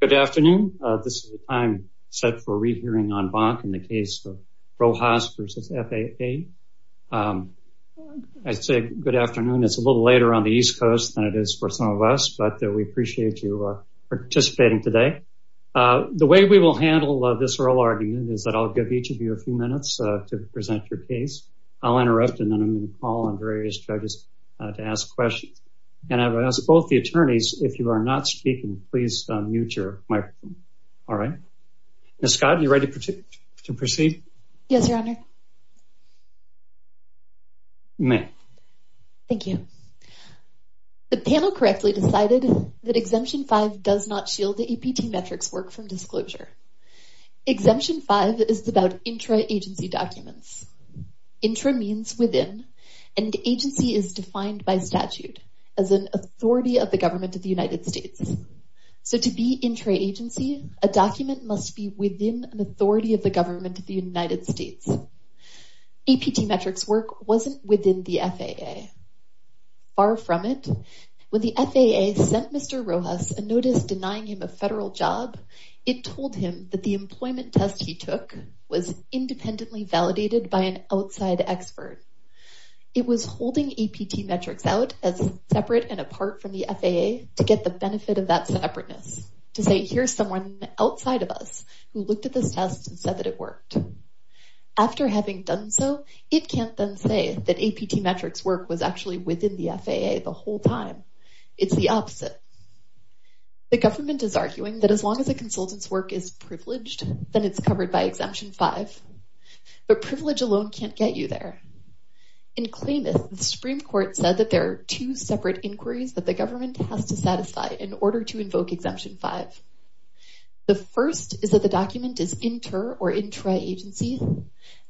Good afternoon. This is the time set for re-hearing on VONT in the case of Rojas v. FAA. I'd say good afternoon. It's a little later on the east coast than it is for some of us, but we appreciate you participating today. The way we will handle this oral argument is that I'll give each of you a few minutes to present your case. I'll interrupt and then I'm going to call on various judges to ask questions. And I will ask both the attorneys, if you are not speaking, please unmute your microphone. All right. Ms. Scott, are you ready to proceed? Ms. Scott Yes, Your Honor. Ms. Rojas You may. Ms. Scott Thank you. The panel correctly decided that Exemption 5 does not shield the APT metrics work from disclosure. Exemption 5 is about intra-agency documents. Intra means within, and agency is defined by statute as an authority of the United States. So to be intra-agency, a document must be within an authority of the government of the United States. APT metrics work wasn't within the FAA. Far from it. When the FAA sent Mr. Rojas a notice denying him a federal job, it told him that the employment test he took was independently validated by an outside expert. It was holding APT metrics out as separate and apart from the FAA to get the benefit of that separateness, to say here's someone outside of us who looked at the test and said that it worked. After having done so, it can't then say that APT metrics work was actually within the FAA the whole time. It's the opposite. The government is arguing that as long as a consultant's work is privileged, then it's covered by Exemption 5. But privilege alone can't get you there. In cleanness, the Supreme Court says that there are two separate inquiries that government has to satisfy in order to invoke Exemption 5. The first is that the document is inter- or intra-agency.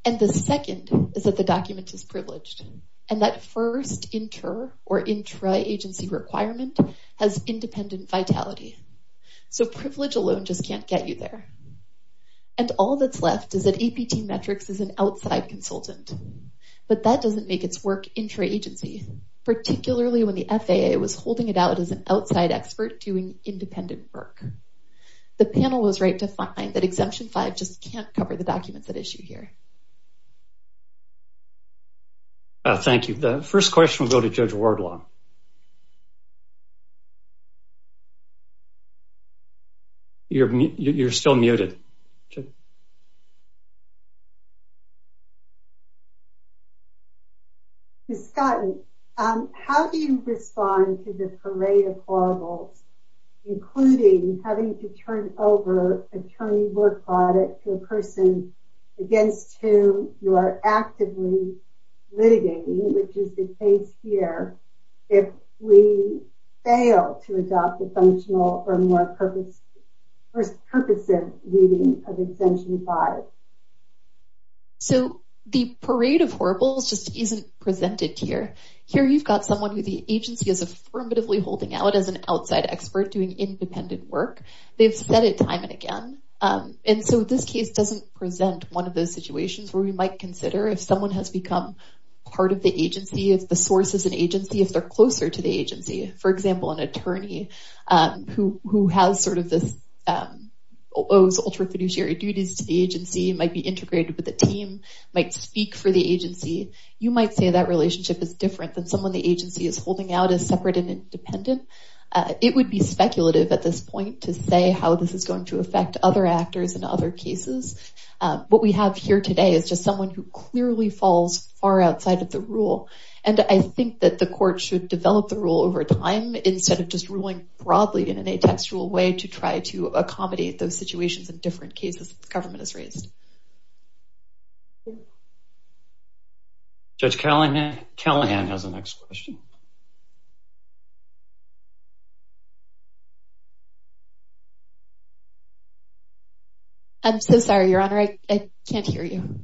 And the second is that the document is privileged. And that first inter- or intra-agency requirement has independent vitality. So privilege alone just can't get you there. And all that's left is that APT metrics is an outside consultant. But that doesn't make it work intra-agency, particularly when the FAA was holding it out as an outside expert doing independent work. The panel was right to find that Exemption 5 just can't cover the documents at issue here. Thank you. The first question will go to Judge Wardlaw. You're still muted. Scott, how do you respond to the parade of horribles, including having to turn over attorney work products to a person against whom you are actively litigating, which is the case here, if we fail to adopt a functional or more purposive reading of Exemption 5? So the parade of horribles just isn't presented here. Here you've got someone who the agency is affirmatively holding out as an outside expert doing independent work. They've said it time and again. And so this case doesn't present one of those situations where we might consider if someone has become part of the agency, if the source is an agency, if they're closer to the agency. For example, an attorney who has sort of this, owes ultra-fiduciary duties to the agency, might be integrated with the team, might speak for the agency. You might say that relationship is different than someone the agency is holding out as separate and independent. It would be speculative at this point to say how this is going to affect other actors in other cases. What we have here today is just someone who clearly falls far outside of the rule. And I think that the court should develop the rule over time instead of just ruling broadly in a textual way to try to accommodate those situations in different cases the government has raised. Judge Callahan has the next question. I'm so sorry, your honor. I can't hear you.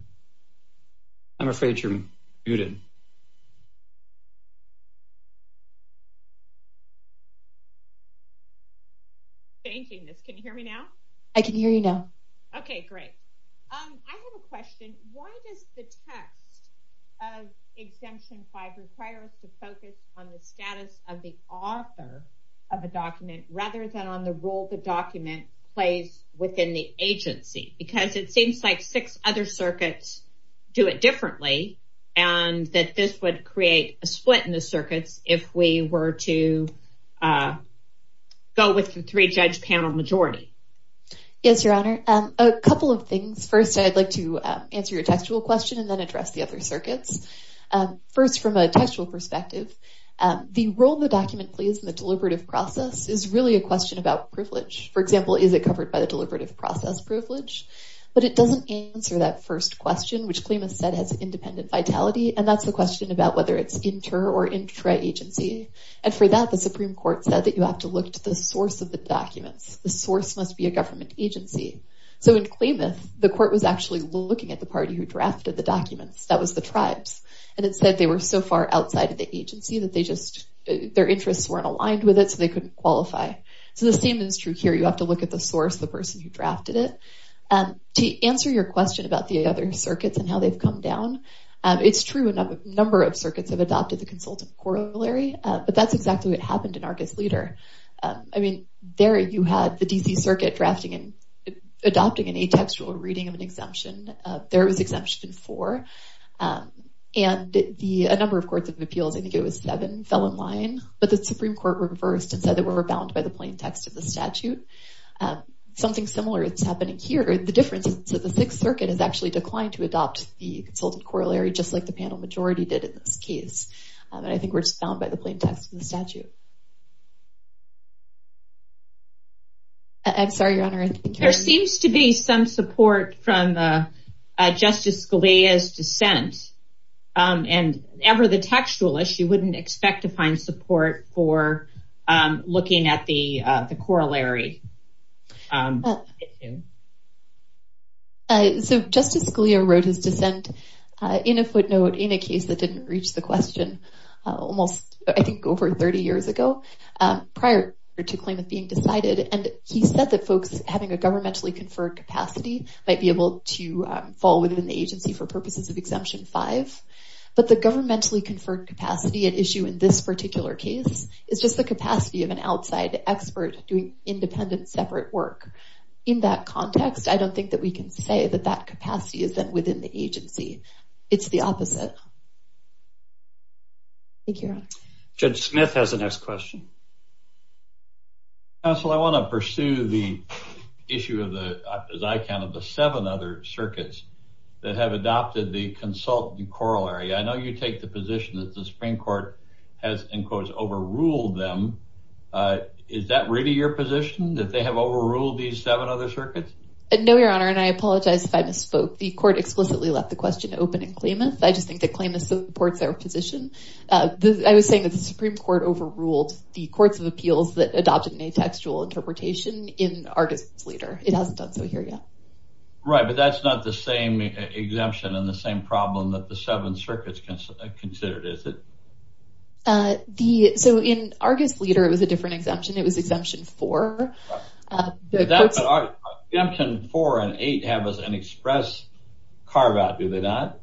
I'm afraid you're muted. Thank goodness. Can you hear me now? I can hear you now. Okay, great. I have a question. Why does the text of Exemption 5 require us to focus on the status of the author of the document rather than on the role the document plays within the agency? Because it seems like six other circuits do it differently and that this would create a split in the circuit if we were to go with the three-judge panel majority. Yes, your honor. A couple of things. First, I'd like to answer your textual question and then address the other circuits. First, from a textual perspective, the role the document plays in the deliberative process is really a question about privilege. For example, is it covered by the deliberative process privilege? But it doesn't answer that first question, which Clema said has independent vitality. And that's a question about whether it's inter or intra-agency. And for that, the Supreme Court said that you have to look to the source of the documents. The source must be a government agency. So in Clemas, the court was actually looking at the party who drafted the documents. That was the tribes. And it said they were so far outside of the agency that their interests weren't aligned with it, so they couldn't qualify. So the same is true here. You have to look at the source, the person who drafted it. To answer your question about the other circuits and how they've come down, it's true that a number of circuits have adopted the consultant corollary. But that's exactly what happened in Argus Leader. I mean, there you had the D.C. circuit drafting and adopting an atextual reading of an exemption. There was Exemption 4. And a number of courts of appeals, I think it was seven, fell in line. But the Supreme Court reversed and said that we were bound by the plain text of the statute. Something similar is happening here. And the difference is that the Sixth Circuit has actually declined to adopt the consultant corollary, just like the panel majority did in this case. I think we're bound by the plain text of the statute. I'm sorry, Your Honor. There seems to be some support from Justice Scalia's dissent. And ever the textualist, you wouldn't expect to find support for looking at the corollary. So Justice Scalia wrote his dissent in a footnote in a case that didn't reach the question almost, I think, over 30 years ago prior to claimant being decided. And he said that folks having a governmentally conferred capacity might be able to fall within the agency for purposes of Exemption 5. But the governmentally conferred capacity at issue in this particular case is just the capacity of an outside expert doing independent, separate work. In that context, I don't think that we can say that that capacity isn't within the agency. It's the opposite. Thank you, Your Honor. Judge Smith has the next question. Counsel, I want to pursue the issue of the, as I can, of the seven other circuits that have adopted the consultant corollary. I know you take the position that the Supreme Court has, in quotes, overruled them. Is that really your position, that they have overruled these seven other circuits? No, Your Honor, and I apologize if I didn't spoke. The Court explicitly left the question open to claimants. I just think that claimants both support their position. I was saying that the Supreme Court overruled the Courts of Appeals that adopted an atextual interpretation in Artists Later. It hasn't done so here yet. Right, but that's not the same exemption and the same problem that the seven circuits considered, is it? So, in Artists Later, it was a different exemption. It was Exemption 4. Exemption 4 and 8 have an express carve-out, do they not?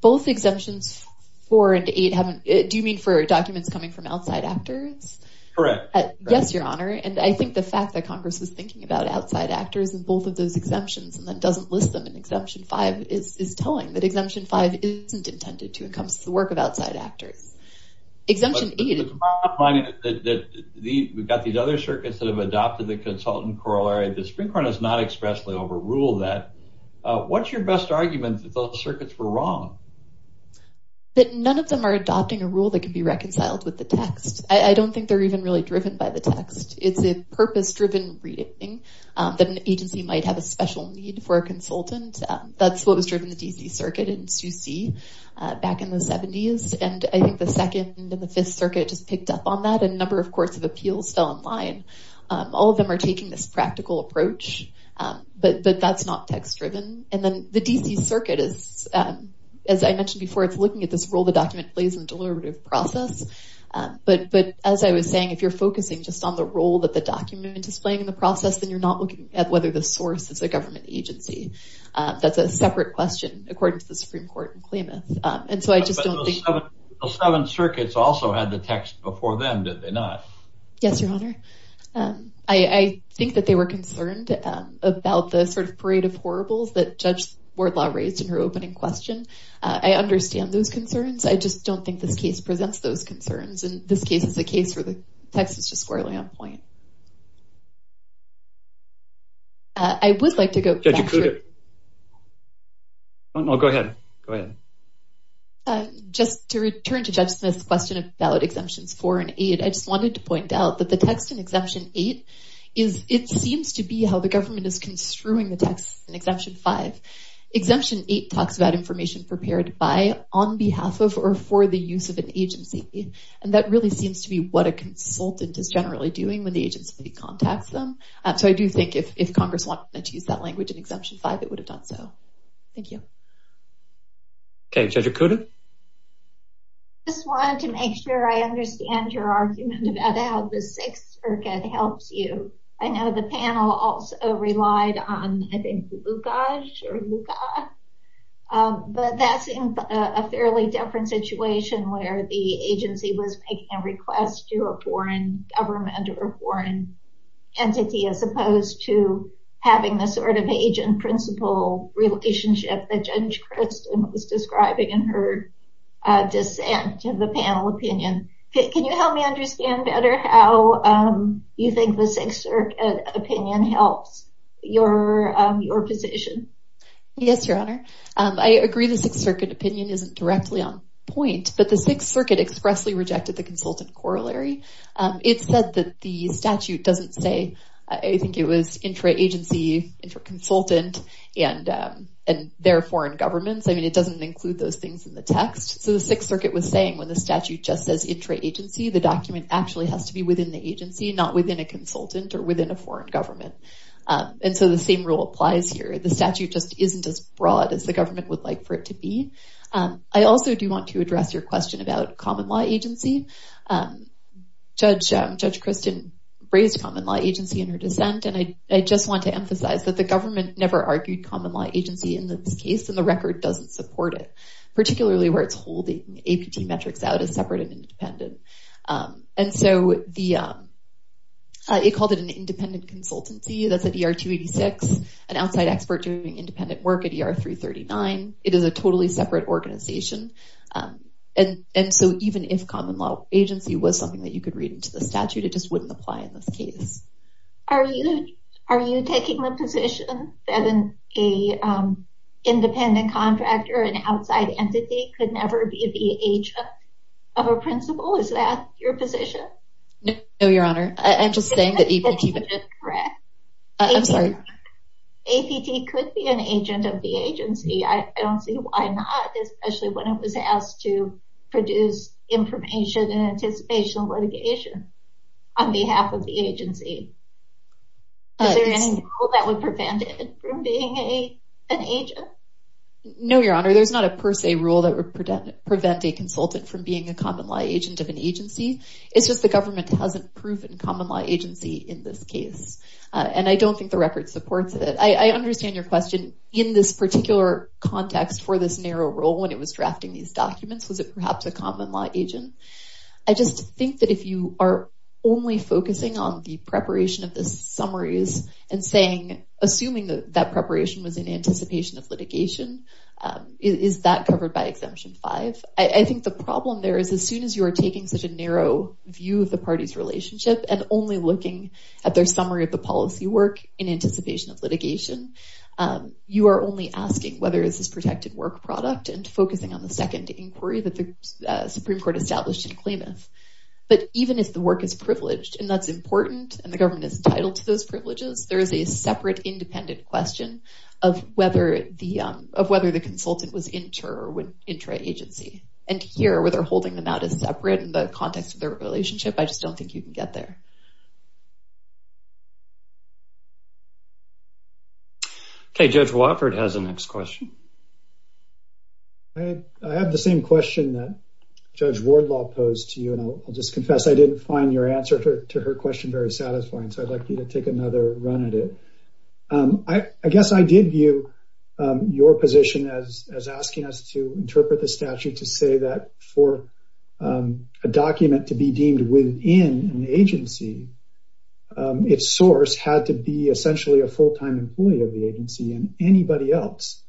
Both Exemptions 4 and 8, do you mean for documents coming from outside actors? Correct. Yes, Your Honor, and I think the fact that Congress was thinking about outside actors in both of those exemptions, and that doesn't list them in Exemption 5, is telling that Exemption 5 isn't intended to encompass the work of outside actors. Exemption 8 is... But the problem I'm finding is that we've got these other circuits that have adopted the consultant corollary. The Supreme Court has not expressly overruled that. What's your best argument that those circuits were wrong? That none of them are adopting a rule that could be reconciled with the text. I don't think they're even really driven by the text. It's a purpose-driven reading that an agency might have a special need for a consultant. That's what was driven in the D.C. Circuit in Suse back in the 70s, and I think the Second and the Fifth Circuit picked up on that, and a number of courts of appeals fell in line. All of them are taking this practical approach, but that's not text-driven. And then the D.C. Circuit is, as I mentioned before, it's looking at this role the document plays in the deliberative process, but as I was saying, if you're focusing just on the role that the document is displaying in the process, then you're not looking at whether the source is a government agency. That's a separate question, according to the Supreme Court in Clements. And so I just don't think... Those seven circuits also had the text before them, did they not? Yes, Your Honor. I think that they were concerned about the sort of parade of horribles that Judge Wardlaw raised in her opening question. I understand those concerns. I just don't think this case presents those concerns, and this case is a case where the text is just squarely on point. I would like to go back to... Judge Acuda. Go ahead. Go ahead. Just to return to Justice's question about Exemption 4 and 8, I just wanted to point out that the text in Exemption 8 is... It seems to be how the government is construing the text in Exemption 5. Exemption 8 talks about information prepared by, on behalf of, or for the use of an agency. And that really seems to be what a consultant is generally doing when the agency contacts them. So I do think if Congress wanted to use that language in Exemption 5, it would have done so. Thank you. Okay. Judge Acuda? I just wanted to make sure I understand your argument about how the sixth circuit helped you. I know the panel also relied on, I think, Lukasz. But that seems a fairly different situation where the agency was making a request to a foreign government or a foreign entity, as opposed to having the sort of agent-principal relationship that Judge Christen was describing in her dissent in the panel opinion. Can you help me understand better how you think the sixth circuit opinion helped your position? Yes, Your Honor. I agree the sixth circuit opinion isn't directly on point, but the sixth circuit expressly rejected the consultant corollary. It said that the statute doesn't say... I think it was intra-agency, intra-consultant, and therefore in governments. I mean, it doesn't include those things in the text. So the sixth circuit was saying when the statute just says intra-agency, the document actually has to be within the agency, not within a consultant or within a foreign government. And so the same rule applies here. The statute just isn't as broad as the government would like for it to be. I also do want to address your question about common law agency. Judge Christen raised common agency in her dissent, and I just want to emphasize that the government never argued common law agency in this case, and the record doesn't support it, particularly where it's holding APT metrics out as separate and independent. And so it called it an independent consultancy. That's an ER-286, an outside expert doing independent work at ER-339. It is a totally separate organization. And so even if common law agency was something that you could read into the Are you taking the position that an independent contractor, an outside entity, could never be the agent of a principal? Is that your position? No, Your Honor. I'm just saying that APT- That's correct. APT could be an agent of the agency. I don't see why not, especially when it was asked to produce information and anticipation of agency. Is there any rule that would prevent it from being an agent? No, Your Honor. There's not a per se rule that would prevent a consultant from being a common law agent of an agency. It's just the government hasn't proven common law agency in this case, and I don't think the record supports it. I understand your question. In this particular context for this narrow role, when it was drafting these documents, was it perhaps a only focusing on the preparation of the summaries and saying, assuming that preparation was in anticipation of litigation? Is that covered by Exemption 5? I think the problem there is as soon as you are taking such a narrow view of the party's relationship and only looking at their summary of the policy work in anticipation of litigation, you are only asking whether it's a protected work product and focusing on the second inquiry that the Supreme Court established to claim it. But even if the work is privileged, and that's important, and the government is entitled to those privileges, there is a separate independent question of whether the consultant was intra-agency. And here, where they're holding the matter separate in the context of their relationship, I just don't think you can get there. Okay, Judge Wofford has the next question. I have the same question that Judge Wardlaw posed to you, and I'll just confess I didn't find your answer to her question very satisfying, so I'd like to take another run at it. I guess I did view your position as asking us to interpret the statute to say that for a document to be deemed within an agency, its source had to be essentially a full-time employee of the agency and anybody else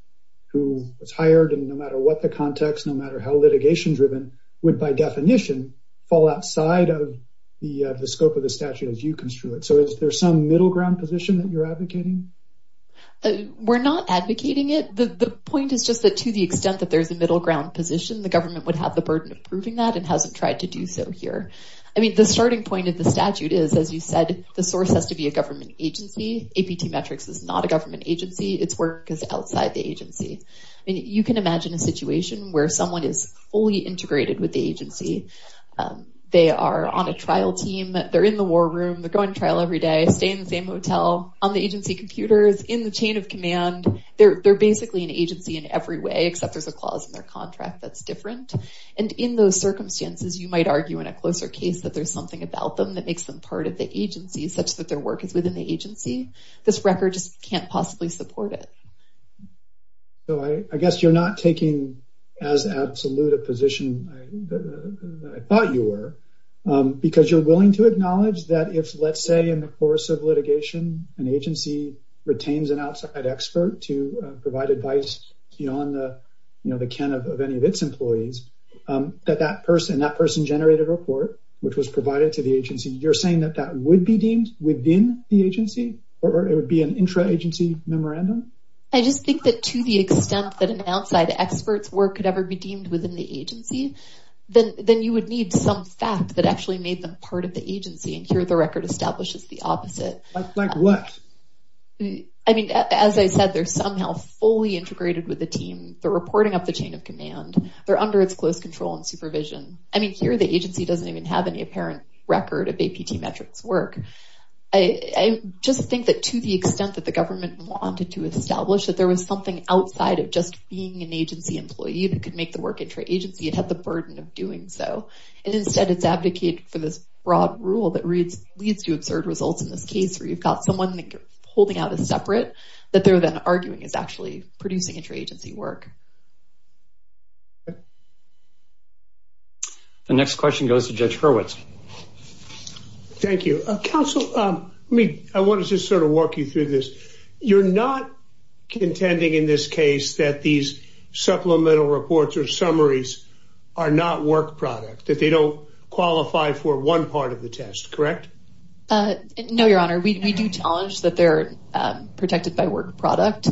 who was hired, and no matter what the context, no matter how litigation-driven, would by definition fall outside of the scope of the statute as you construe it. So is there some middle ground position that you're advocating? We're not advocating it. The point is just that to the extent that there's a middle ground position, the government would have the burden of proving that and hasn't tried to do so here. I mean, the starting point of the statute is, as you said, the source has to be a government agency. APT Metrics is not a government agency. Its work is outside the agency. You can imagine a situation where someone is fully integrated with the agency. They are on a trial team. They're in the war room. They're going to trial every day, stay in the same hotel, on the agency computers, in the chain of command. They're basically an agency in every way except there's a clause in their contract that's different, and in those circumstances, you might argue in a closer case that there's something about them that makes them agency such that their work is within the agency. This record just can't possibly support it. So I guess you're not taking as absolute a position as I thought you were because you're willing to acknowledge that if, let's say, in the course of litigation, an agency retains an outside expert to provide advice beyond the can of any of its employees, that that person, generated a report which was provided to the agency. You're saying that that would be deemed within the agency or it would be an intra-agency memorandum? I just think that to the extent that an outside expert's work could ever be deemed within the agency, then you would need some fact that actually made them part of the agency, and here the record establishes the opposite. That's like what? I mean, as I said, they're somehow fully integrated with the team. They're reporting up the chain of command. They're under its close control and supervision. I mean, here the agency doesn't even have any apparent record of APT metrics work. I just think that to the extent that the government wanted to establish that there was something outside of just being an agency employee that could make the work intra-agency, it had the burden of doing so, and instead it's advocated for this broad rule that leads to absurd results in this case where you've got someone holding out a separate that they're then arguing it's actually producing intra-agency work. The next question goes to Judge Hurwitz. Thank you. Counsel, I wanted to sort of walk you through this. You're not intending in this case that these supplemental reports or summaries are not work product, that they don't qualify for one part of the test, correct? No, Your Honor. We do challenge that they're protected by work product.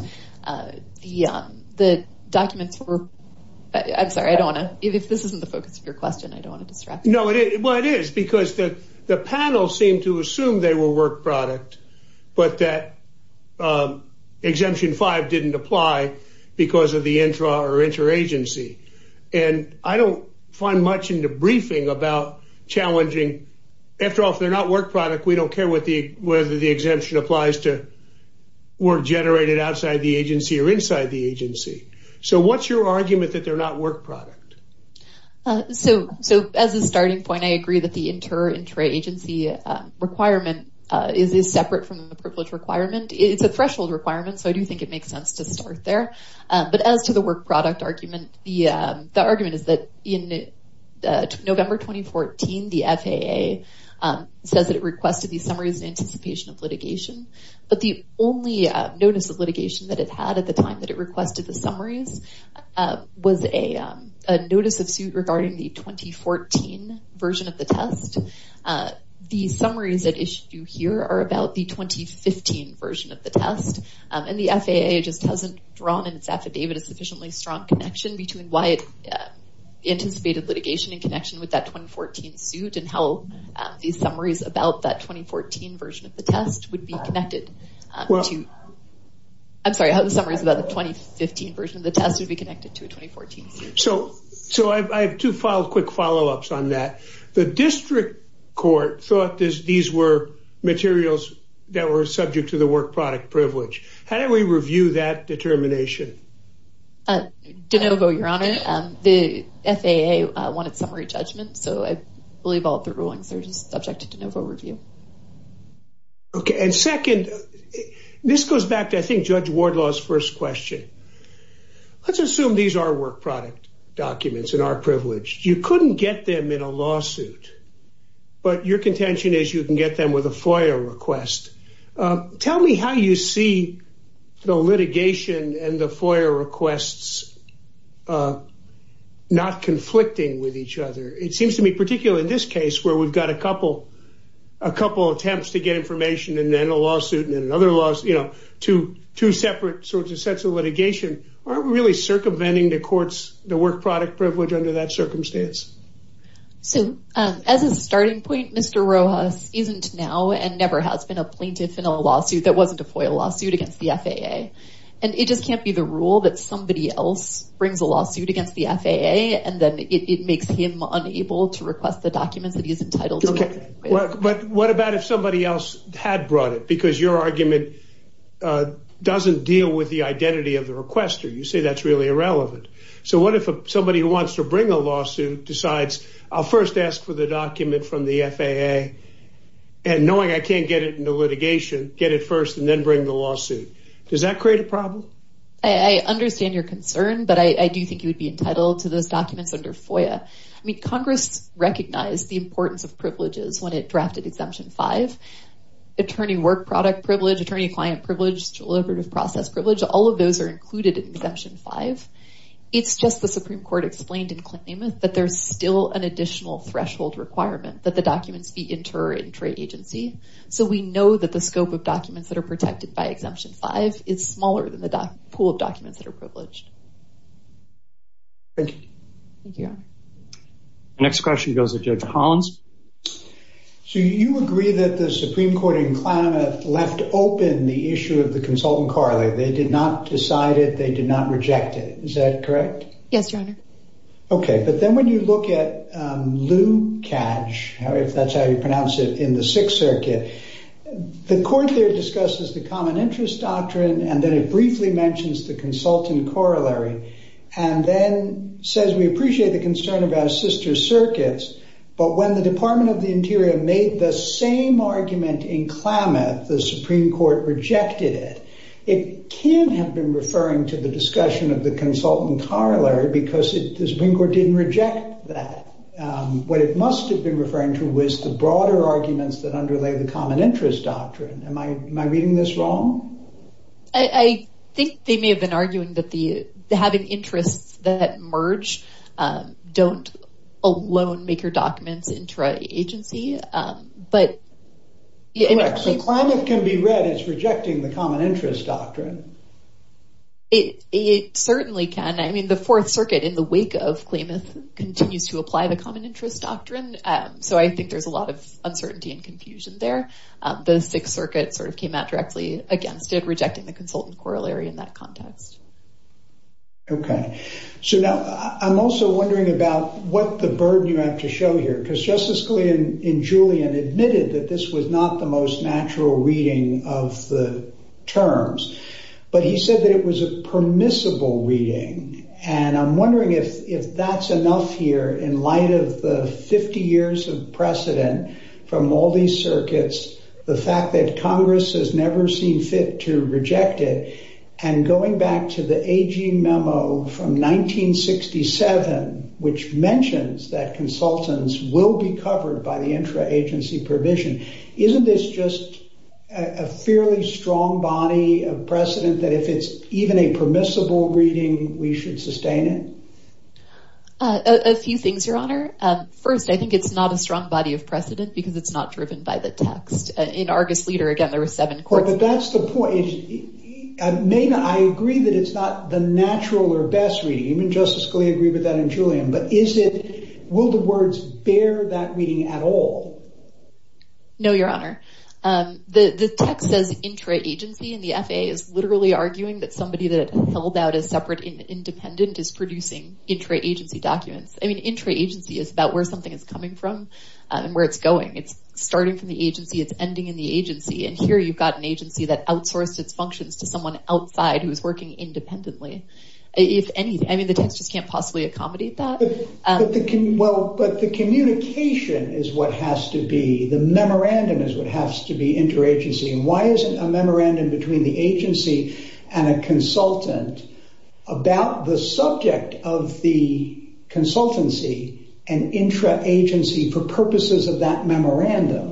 Yeah, the documents were... I'm sorry, I don't want to... This isn't the focus of your question. I don't want to distract you. No, well, it is because the panel seemed to assume they were work product, but that exemption five didn't apply because of the intra or intra-agency, and I don't find much in the briefing about challenging... After all, if the exemption applies to work generated outside the agency or inside the agency. So what's your argument that they're not work product? So as a starting point, I agree that the intra-agency requirement is separate from the privilege requirement. It's a threshold requirement, so I do think it makes sense to start there, but as to the work product argument, the argument is in November 2014, the FAA says that it requested these summaries in anticipation of litigation, but the only notice of litigation that it had at the time that it requested the summaries was a notice of suit regarding the 2014 version of the test. The summaries that issue here are about the 2015 version of the test, and the FAA just hasn't drawn in its affidavit a sufficiently strong connection between why it anticipated litigation in connection with that 2014 suit and how these summaries about that 2014 version of the test would be connected to... I'm sorry, how the summaries about the 2015 version of the test would be connected to a 2014 suit. So I have two quick follow-ups on that. The district court thought that these were materials that were subject to the work product privilege. How do we review that determination? DeNovo, you're on it. The FAA wanted summary judgment, so I believe all three rulings are subject to DeNovo review. Okay, and second, this goes back to I think Judge Wardlaw's first question. Let's assume these are work product documents and are privileged. You couldn't get them in a lawsuit, but your contention is you can get them with a FOIA request. Tell me how you see the litigation and the FOIA requests not conflicting with each other. It seems to me particularly in this case where we've got a couple attempts to get information and then a lawsuit and then another lawsuit, two separate sorts of sets of litigation, aren't we really circumventing the court's work product privilege under that circumstance? As a starting point, Mr. Rojas isn't now and never has been a plaintiff in a lawsuit that the FAA and it just can't be the rule that somebody else brings a lawsuit against the FAA and then it makes him unable to request the document that he's entitled to. What about if somebody else had brought it because your argument doesn't deal with the identity of the requester? You say that's really irrelevant. So what if somebody who wants to bring a lawsuit decides, I'll first ask for the document from the FAA and knowing I can't get it in the litigation, get it first and then bring the lawsuit. Does that create a problem? I understand your concern, but I do think you would be entitled to those documents under FOIA. I mean, Congress recognized the importance of privileges when it drafted Exemption 5. Attorney work product privilege, attorney client privilege, deliberative process privilege, all of those are included in Exemption 5. It's just the Supreme Court explained in claimant that there's still an additional threshold requirement that the documents be inter-agency. So we know that the scope of documents that are protected by Exemption 5 is smaller than the pool of documents that are privileged. Next question goes to Jada Collins. So you agree that the Supreme Court in claimant left open the issue of the consultant corollary. They did not decide it. They did not Okay, but then when you look at Lukacs, that's how you pronounce it in the Sixth Circuit, the court there discusses the common interest doctrine and then it briefly mentions the consultant corollary and then says we appreciate the concern about sister circuits, but when the Department of the Interior made the same argument in claimant, the Supreme Court rejected it. It can have been referring to the discussion of the consultant corollary because the Supreme Court didn't reject that. What it must have been referring to was the broader arguments that underlay the common interest doctrine. Am I reading this wrong? I think they may have been arguing that having interests that merge don't alone make your It certainly can. I mean, the Fourth Circuit in the wake of claimants continues to apply the common interest doctrine, so I think there's a lot of uncertainty and confusion there. The Sixth Circuit sort of came out directly against it, rejecting the consultant corollary in that context. Okay, so now I'm also wondering about what the burden you have to show here because Justice Scalia and Julian admitted that this was not the most natural reading of the terms, but he said that it was a permissible reading, and I'm wondering if that's enough here in light of the 50 years of precedent from all these circuits, the fact that Congress has never seen fit to reject it, and going back to the AG memo from 1967, which mentions that consultants will be covered by the intra-agency provision. Isn't this just a fairly strong body of precedent that if it's even a permissible reading, we should sustain it? A few things, Your Honor. First, I think it's not a strong body of precedent because it's not driven by the text. In Argus Leader, again, there were seven courts. But that's the point. Maynard, I agree that it's not the natural or best reading, and Justice Scalia agreed with that and Julian, but will the words bear that reading at all? No, Your Honor. The text says intra-agency, and the FAA is literally arguing that somebody that sold out as separate and independent is producing intra-agency documents. I mean, intra-agency is about where something is coming from and where it's going. It's starting from the agency, it's ending in the agency, and here you've got an agency that outsources functions to someone outside who's working independently. If any, any of the texts can't possibly accommodate that. But the communication is what has to be, the memorandum is what has to be intra-agency. Why is it a memorandum between the agency and a consultant about the subject of the consultancy and intra-agency for purposes of that memorandum?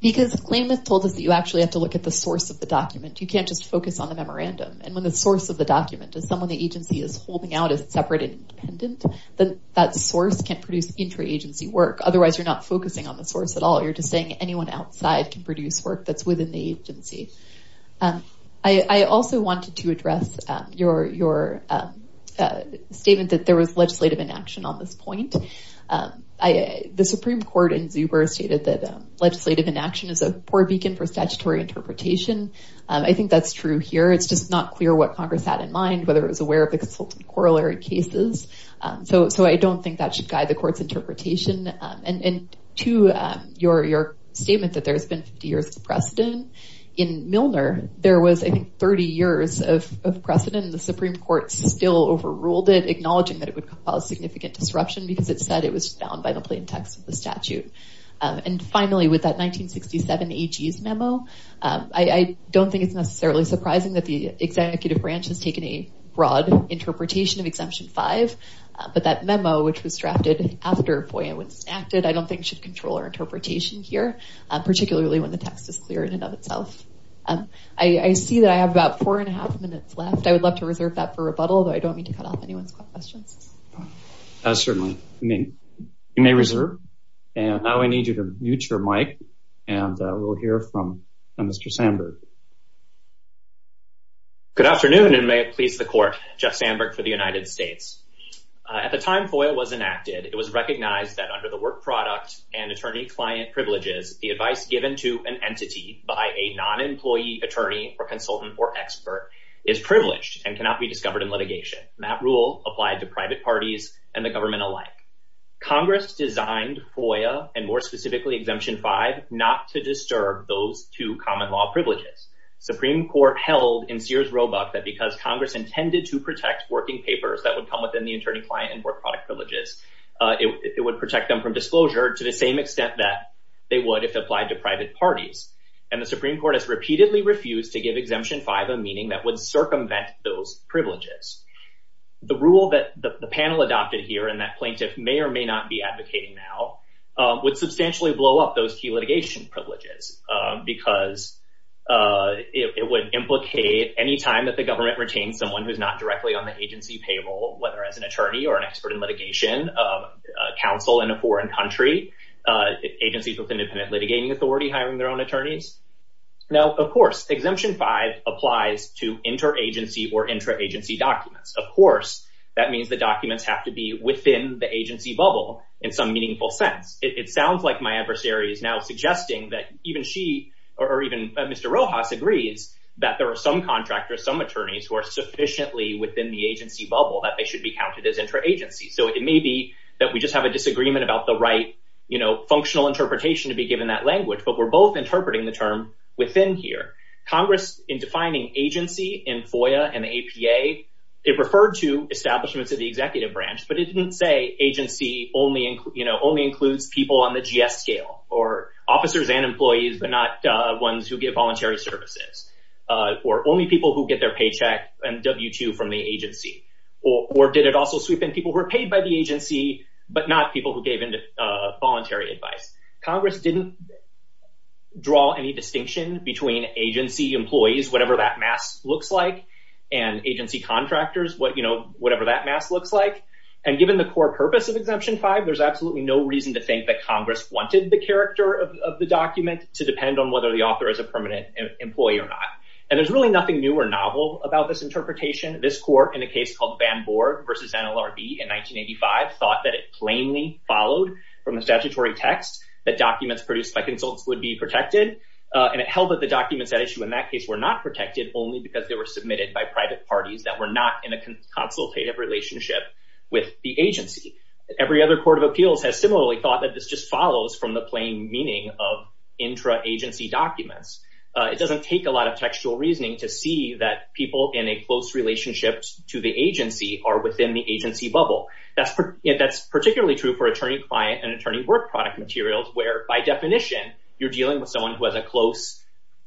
Because claimants told us that you actually have to look at the source of the document. You can't just focus on the memorandum. And when the source of the document is someone that that source can't produce intra-agency work, otherwise you're not focusing on the source at all. You're just saying anyone outside can produce work that's within the agency. I also wanted to address your statement that there was legislative inaction on this point. The Supreme Court in Zuber stated that legislative inaction is a poor beacon for statutory interpretation. I think that's true here. It's just not clear what Congress had in cases. So I don't think that should guide the court's interpretation. And to your statement that there's been 50 years of precedent, in Milner, there was 30 years of precedent and the Supreme Court still overruled it, acknowledging that it would cause significant disruption because it said it was found by the plain text of the statute. And finally, with that 1967 AG's memo, I don't think it's necessarily surprising that the executive branch has taken a broad interpretation of Exemption 5. But that memo, which was drafted after FOIA was enacted, I don't think should control our interpretation here, particularly when the text is clear in and of itself. I see that I have about four and a half minutes left. I would love to reserve that for rebuttal, but I don't mean to cut off anyone's questions. Certainly. You may reserve. And now I need you to mute your mic, and we'll hear from Mr. Sanders. Good afternoon, and may it please the court, Jeff Sandberg for the United States. At the time FOIA was enacted, it was recognized that under the work product and attorney-client privileges, the advice given to an entity by a non-employee attorney or consultant or expert is privileged and cannot be discovered in litigation. That rule applies to private parties and the government alike. Congress designed FOIA, and more specifically Exemption 5, not to disturb those two common law privileges. Supreme Court held in Sears Roebuck that because Congress intended to protect working papers that would come within the attorney-client and work product privileges, it would protect them from disclosure to the same extent that they would if applied to private parties. And the Supreme Court has repeatedly refused to give Exemption 5 a meaning that would circumvent those privileges. The rule that the panel adopted here, and that plaintiff may or may not be advocating now, would substantially blow up those key litigation privileges because it would implicate any time that the government retained someone who's not directly on the agency payroll, whether as an attorney or an expert in litigation, counsel in a foreign country, agencies with independent litigating authority hiring their own attorneys. Now, of course, Exemption 5 applies to inter-agency or intra-agency documents. Of course, that means the documents have to be within the agency bubble in some meaningful sense. It sounds like my adversary is now suggesting that even she, or even Mr. Rojas, agrees that there are some contractors, some attorneys who are sufficiently within the agency bubble that they should be counted as intra-agency. So it may be that we just have a disagreement about the right functional interpretation to be given that language, but we're both interpreting the term within here. Congress, in defining agency in FOIA and APA, it referred to the executive branch, but it didn't say agency only includes people on the GS scale, or officers and employees, but not ones who give voluntary services, or only people who get their paycheck and W-2 from the agency. Or did it also sweep in people who were paid by the agency, but not people who gave in to voluntary advice? Congress didn't draw any distinction between agency employees, whatever that mask looks like, and agency contractors, whatever that mask looks like. And given the core purpose of Exemption 5, there's absolutely no reason to think that Congress wanted the character of the document to depend on whether the author is a permanent employee or not. And there's really nothing new or novel about this interpretation. This court, in a case called Van Borg versus NLRB in 1985, thought that it plainly followed from the statutory text that documents produced by consults would be protected. And it held that the documents that were issued in that case were not protected only because they were submitted by private parties that were not in a consultative relationship with the agency. Every other court of appeals has similarly thought that this just follows from the plain meaning of intra-agency documents. It doesn't take a lot of textual reasoning to see that people in a close relationship to the agency are within the agency bubble. That's particularly true for attorney-client and attorney-work-product materials, where by definition, you're dealing with someone with a close,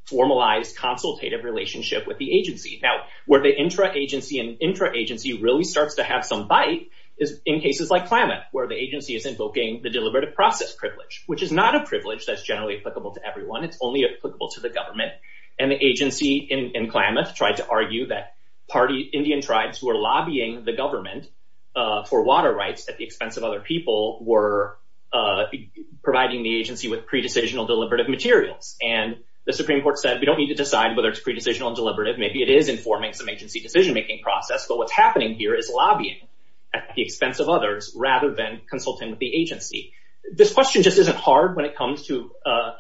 formalized, consultative relationship with the agency. Now, where the intra-agency and intra-agency really start to have some bite is in cases like Klamath, where the agency is invoking the deliberative process privilege, which is not a privilege that's generally applicable to everyone. It's only applicable to the government. And the agency in Klamath tried to argue that Indian tribes who are lobbying the government for water rights at the expense of other people were providing the agency with a privilege. And the Supreme Court said, we don't need to decide whether it's pre-decisional and deliberative. Maybe it is informing some agency decision-making process. But what's happening here is lobbying at the expense of others rather than consulting with the agency. This question just isn't hard when it comes to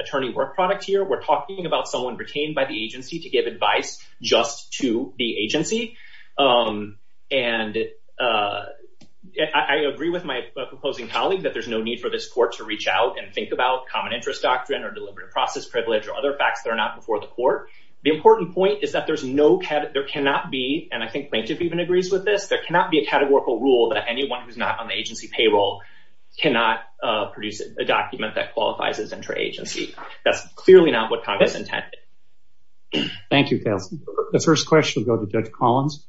attorney-work-product here. We're talking about someone retained by the agency to give advice just to the agency. And I agree with my proposing colleague that there's no need for this court to reach out and think about interest doctrine or deliberative process privilege or other facts that are not before the court. The important point is that there cannot be, and I think plaintiff even agrees with this, there cannot be a categorical rule that anyone who's not on the agency payroll cannot produce a document that qualifies as intra-agency. That's clearly not what Congress intended. Thank you, Cal. The first question goes to Jeff Collins.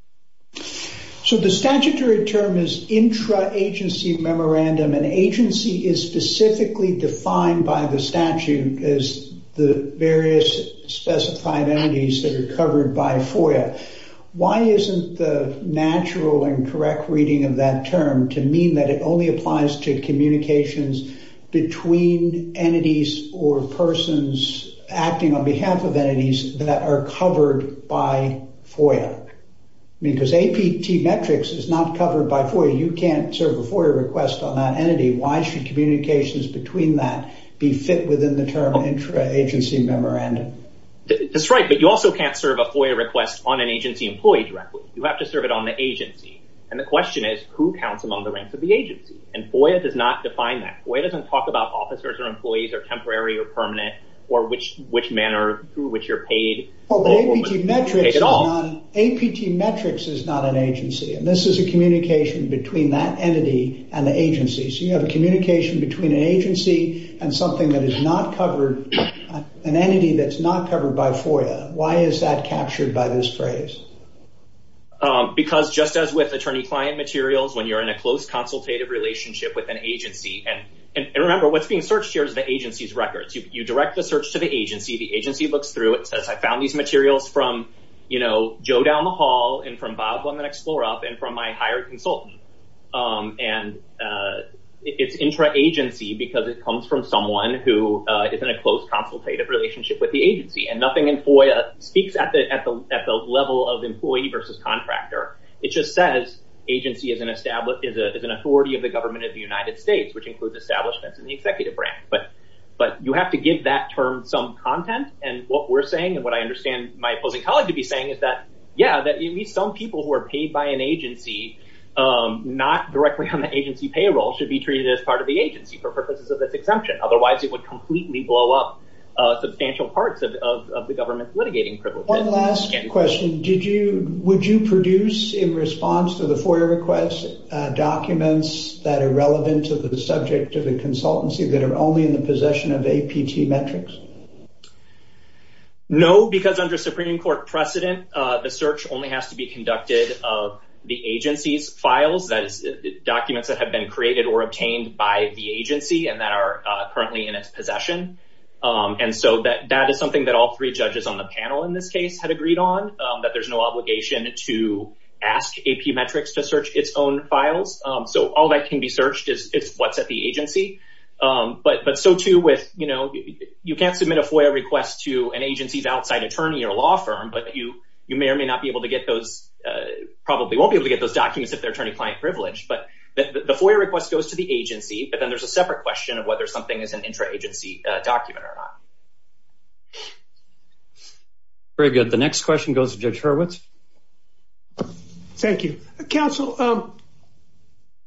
So the statutory term is intra-agency memorandum. An agency is specifically defined by the statute as the various specified entities that are covered by FOIA. Why isn't the natural and correct reading of that term to mean that it only applies to communications between entities or persons acting on behalf of entities that are covered by FOIA? Because APT metrics is not covered by FOIA. You can't serve a FOIA request on that entity. Why should communications between that be fit within the term intra-agency memorandum? That's right. But you also can't serve a FOIA request on an agency employee directly. You have to serve it on the agency. And the question is, who counts among the ranks of the agency? And FOIA does not define that. FOIA doesn't talk about officers or employees or temporary or permanent or which men or who, which you're paid. Well, APT metrics is not an agency. And this is a communication between that entity and the agency. So you have a communication between an agency and something that is not covered, an entity that's not covered by FOIA. Why is that captured by this phrase? Because just as with attorney-client materials, when you're in a close consultative relationship with an agency, and remember, what's being searched here is the agency's records. You direct the search to the agency. The agency looks through it and says, I found these materials from Joe down the hall and from Bob on the next floor up and from my hired consultant. And it's intra-agency because it comes from someone who is in a close consultative relationship with the agency. And nothing in FOIA speaks at the level of employee versus contractor. It just says agency is an authority of the government of the United States, which includes establishments and the executive branch. But you have to give that term some content. And what we're saying and what I understand my colleague to be saying is that, yeah, that you need some people who are paid by an agency, not directly on the agency payroll, should be treated as part of the agency for purposes of this exemption. Otherwise, it would completely blow up substantial parts of the government's litigating privilege. One last question. Did you, would you produce in response to the FOIA request documents that are relevant to the subject of the consultancy that are only in the possession of APT Metrics? No, because under Supreme Court precedent, the search only has to be conducted of the agency's files, documents that have been created or obtained by the agency and that are currently in its possession. And so that is something that all three judges on the panel in this case had agreed on, that there's no obligation to ask AP Metrics to search its own documents. So, yes, that can be searched. It's what's at the agency. But so, too, with, you know, you can't submit a FOIA request to an agency's outside attorney or law firm, but you may or may not be able to get those, probably won't be able to get those documents if they're attorney-client privileged. But the FOIA request goes to the agency, but then there's a separate question of whether something is an intra-agency document or not. Very good. The next question goes to Judge Hurwitz. Thank you. Counsel,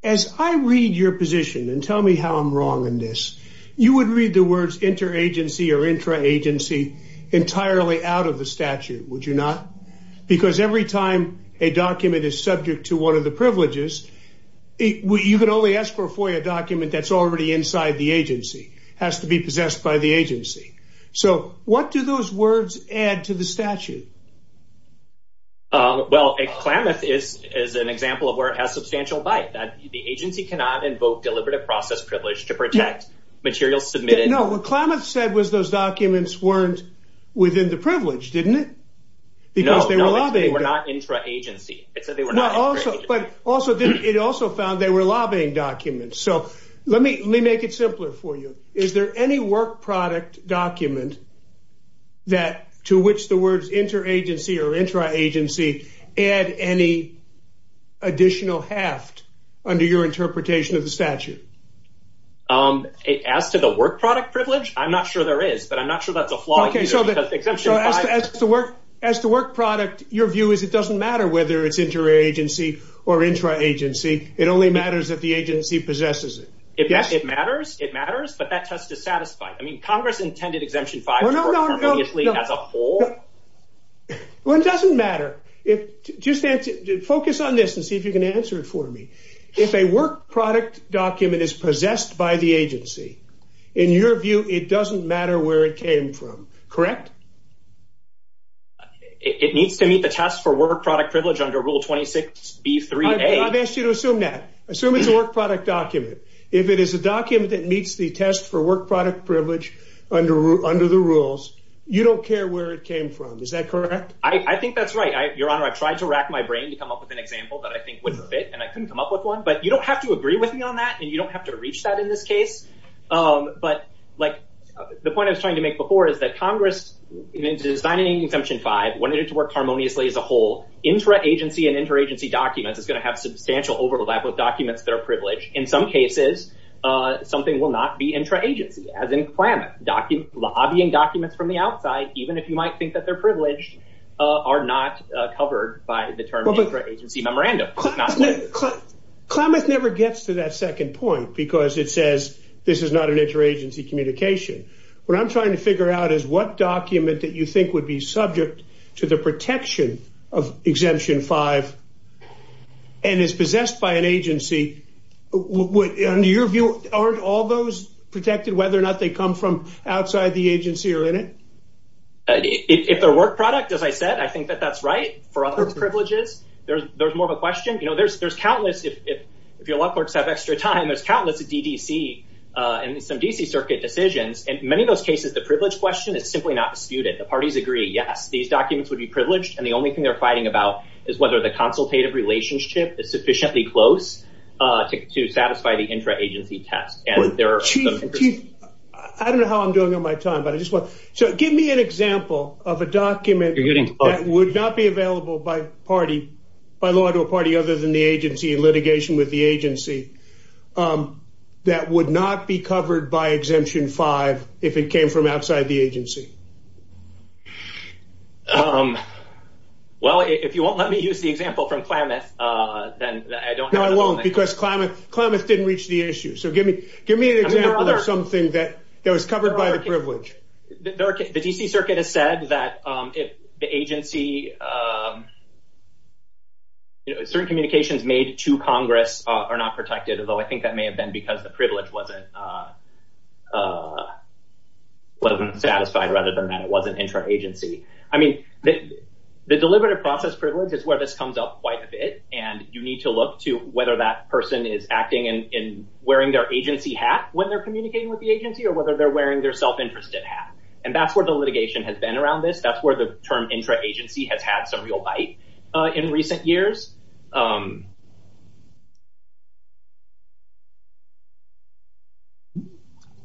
as I read your position, and tell me how I'm wrong in this, you would read the words inter-agency or intra-agency entirely out of the statute, would you not? Because every time a document is subject to one of the privileges, you could only ask for a FOIA document that's already inside the agency, has to be possessed by the agency. So what do those words add to the statute? Well, Klamath is an example of where it has substantial bias. The agency cannot invoke deliberative process privilege to protect material submitted... No, what Klamath said was those documents weren't within the privilege, didn't it? No, they were not intra-agency. No, but also, it also found they were lobbying documents. So let me make it simpler for you. Is there any work product document to which the words inter-agency or intra-agency add any additional heft under your interpretation of the statute? As to the work product privilege, I'm not sure there is, but I'm not sure about the FOIA. As the work product, your view is it doesn't matter whether it's inter-agency or intra-agency. It only matters if the agency possesses it. It matters, it matters, but that test is satisfied. I mean, Congress intended Exemption 5... Well, it doesn't matter. Just focus on this and see if you can answer it for me. If a work product document is possessed by the agency, in your view, it doesn't matter where it came from, correct? It needs to meet the test for work product privilege under Rule 26B-3-A. I've asked you to assume that. Assume it's a work product document. If it is a document that meets the test for work product privilege under the rules, you don't care where it came from. Is that correct? I think that's right. Your Honor, I tried to rack my brain to come up with an example that I think was a bit, and I couldn't come up with one. But you don't have to agree with me on that, and you don't have to reach that in this case. But the point I was trying to make before is that Congress, in designing Exemption 5, wanted it to work harmoniously as a whole. Intra-agency and inter-agency documents is going to have substantial overlap of documents that are privileged. In some cases, something will not be intra-agency, as in Klamath. Lobbying documents from the outside, even if you might think that they're privileged, are not covered by the term intra-agency memorandum. Klamath never gets to that second point because it says this is not an intra-agency communication. What I'm trying to figure out is what document that you think would be subject to the protection of Exemption 5 and is possessed by an agency. In your view, aren't all those protected, whether or not they come from outside the agency or in it? If they're work product, as I said, I think that that's right. For other privileges, there's more of a question. There's countless, if your law clerks have extra time, there's countless DDC and some DC Circuit decisions. In many of those cases, the privilege question is simply not disputed. The parties agree, yes, these documents would be privileged. The only thing they're fighting about is whether the consultative relationship is sufficiently close to satisfy the intra-agency test. I don't know how I'm doing on my time. Give me an example of a document that would not be available by law to a party other than the agency in litigation with the agency that would not be covered by Exemption 5 if it came from outside the agency. Well, if you won't let me use the example from Klamath, then I don't know. No, I won't because Klamath didn't reach the issue. Give me an example of something that was covered by the privilege. The DC Circuit has said that if the agency, certain communications made to Congress are not protected, although I think that may have been because the privilege wasn't satisfied rather than that it wasn't intra-agency. I mean, the deliberative process privilege is where this comes up quite a bit, and you need to look to whether that person is acting and wearing their agency hat when they're communicating with the agency or whether they're wearing their self-interested hat. And that's where the litigation has been around this. That's where the term intra-agency has had some real bite in recent years.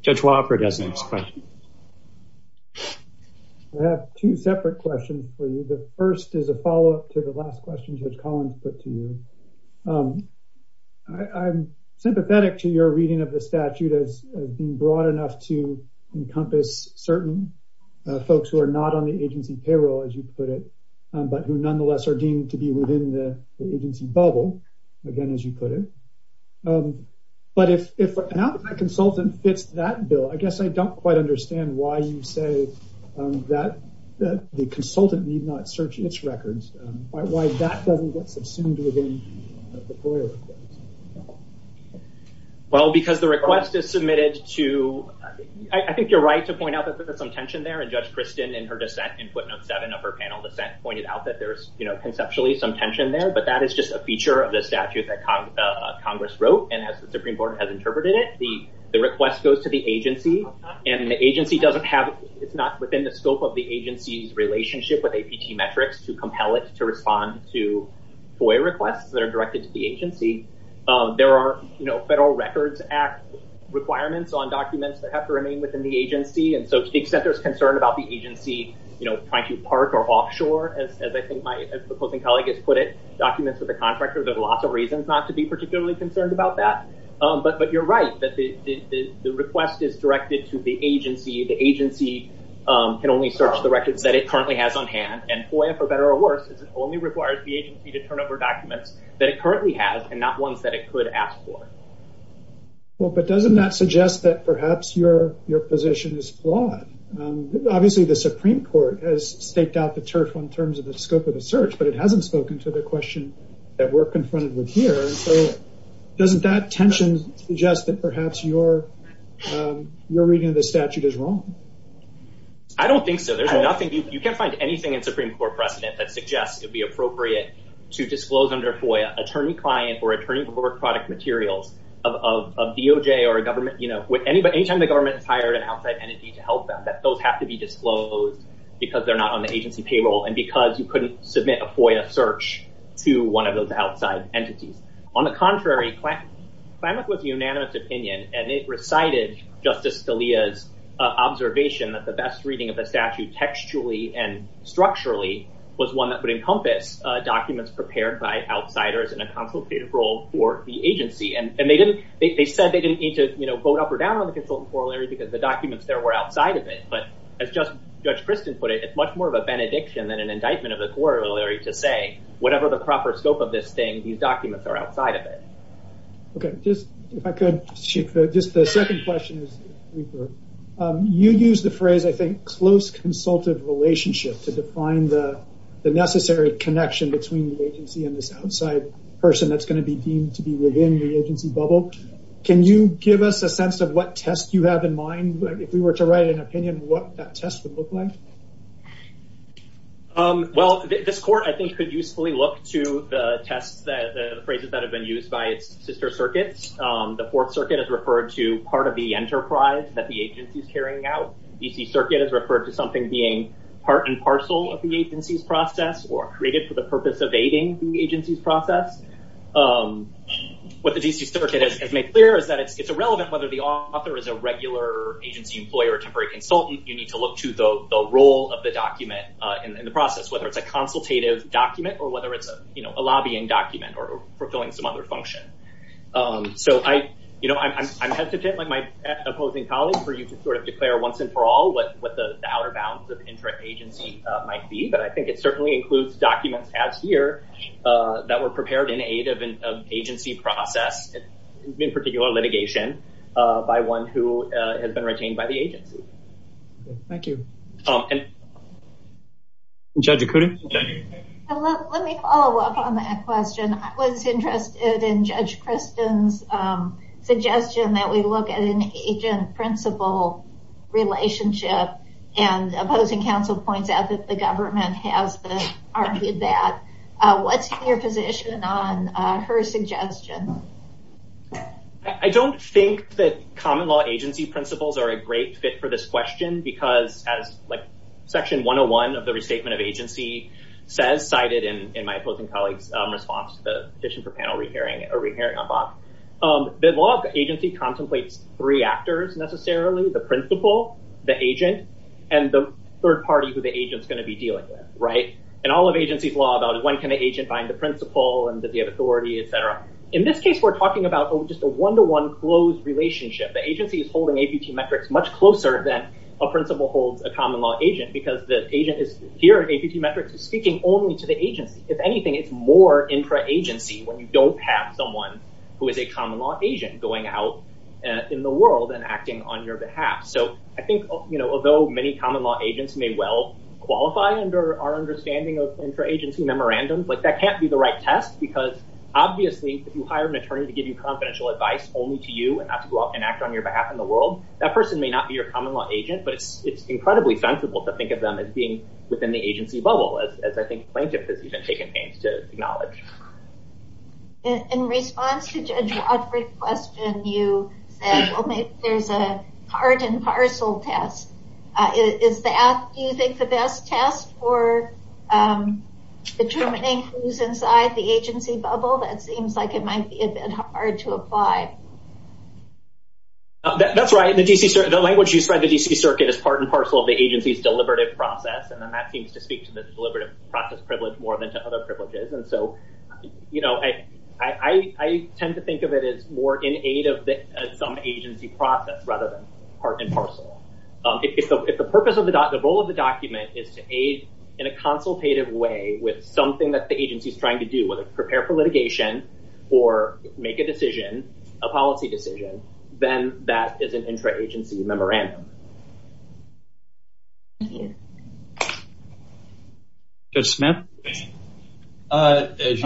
Judge Wofford has the next question. I have two separate questions for you. The first is a follow-up to the last question Judge Collins put to you. I'm sympathetic to your reading of the statute as being broad enough to encompass certain folks who are not on the agency payroll, as you put it, but who nonetheless are deemed to be within the agency bubble, again, as you put it. But if an out-of-pocket consultant fits that bill, I guess I don't quite understand why you say that the consultant need not search its records. Why that doesn't seem to be the case. Well, because the request is submitted to, I think you're right to point out that there's conceptually some tension there, but that is just a feature of the statute that Congress wrote. And as the Supreme Court has interpreted it, the request goes to the agency. And the agency doesn't have, it's not within the scope of the agency's relationship with APT Metrics to compel it to respond to FOIA requests that are directed to the agency. There are Federal Records Act requirements on documents that have to remain within the agency. And so to the extent there's concern about the agency, you know, trying to park or offshore, as I think my supporting colleague has put it, documents with the contractor, there's lots of reasons not to be particularly concerned about that. But you're right that the request is directed to the agency. The agency can only search the records that it currently has on hand. And FOIA, for better or worse, only requires the agency to turn over documents that it currently has and not ones that it could ask for. Well, but doesn't that suggest that perhaps your position is flawed? Obviously, the Supreme Court has staked out the turf in terms of the scope of the search, but it hasn't spoken to the question that we're confronted with here. And so doesn't that tension suggest that perhaps your reading of the statute is wrong? I don't think so. There's nothing, you can't find anything in Supreme Court precedent that suggests it would be appropriate to disclose under FOIA attorney client or attorney before product material of DOJ or a government, you know, any time the government hired an outside entity to help them, that those have to be disclosed because they're not on the agency payroll and because you couldn't submit a FOIA search to one of those outside entities. On the contrary, climate was a unanimous opinion and it recited Justice Scalia's observation that the best reading of the statute textually and structurally was one that would encompass documents prepared by outsiders in a consultative role for the agency. And they didn't, they said they didn't need to, you know, vote up or down on the consultant corollary because the documents there were outside of it. But as Judge Christin put it, it's much more of a benediction than an indictment of the corollary to say, whatever the proper scope of this thing, these documents are outside of it. Okay, if I could, the second question is, you'd use the phrase, I think, relationship to define the necessary connection between the agency and this outside person that's going to be deemed to be within the agency bubble. Can you give us a sense of what test you have in mind, if you were to write an opinion, what that test would look like? Well, this court, I think, could usefully look to the test, the phrases that have been used by sister circuits. The fourth circuit is referred to part of the enterprise that the agency is carrying out. The DC circuit is referred to something being part and parcel of the agency's process or created for the purpose of aiding the agency's process. What the DC circuit has made clear is that it's irrelevant whether the author is a regular agency lawyer, temporary consultant, you need to look to the role of the document in the process, whether it's a consultative document or whether it's, you know, a lobbying document or fulfilling some other function. So, I, you know, I'm hesitant with my opposing colleague for you to sort of declare once and for all what the dollar balance of intra-agency might be, but I think it certainly includes documents as here that were prepared in aid of an agency process, in particular litigation, by one who has been retained by the agency. Thank you. Judge Acuda. Let me follow up on that question. I was interested in Judge Kristen's suggestion that we look at an agent-principal relationship and opposing counsel points as if the government has argued that. What's your position on her suggestion? I don't think that common law agency principles are a great fit for this question because as, like, section 101 of the Restatement of Agencies says, cited in my opposing colleague's response to the petition for panel re-hearing, or re-hearing above, the law of the agency contemplates three actors necessarily, the principal, the agent, and the third party who the agent is going to be dealing with, right? In all of agency's law, though, when can the agent find the principal and the authority, et cetera? In this case, we're talking about just a one-to-one closed relationship. The agency is holding APT metrics much closer than a principal holds a common law agent because the agent is, here, APT metrics is speaking only to the agent. If anything, it's more intra-agency when you don't have someone who is a common law agent going out in the world and acting on your behalf. So I think, you know, although many common law agents may well qualify under our understanding of intra-agency memorandums, like, that can't be the right test because, obviously, if you hire an attorney to give you confidential advice only to you and not to go out and act on your behalf in the world, that person may not be your common law agent, but it's incredibly sensible to think of them as being within the agency bubble, as I think plaintiffs have taken pains to acknowledge. In response to Judge Osberg's question, you said, well, maybe there's a hard and parcel test. Do you think the best test for determining who's inside the agency bubble? That seems like it might be a bit hard to apply. That's right. The language used by the D.C. Circuit is part and parcel of the agency's deliberative process, and that seems to speak to the deliberative process privilege more than to other privileges. And so, you know, I tend to think of it as more in aid of some agency process rather than part and parcel. If the purpose of the document, the role of the document is to aid in a consultative way with something that the agency is trying to do, whether it's prepare for litigation or make a decision, a policy decision, then that is an intra-agency memorandum. As you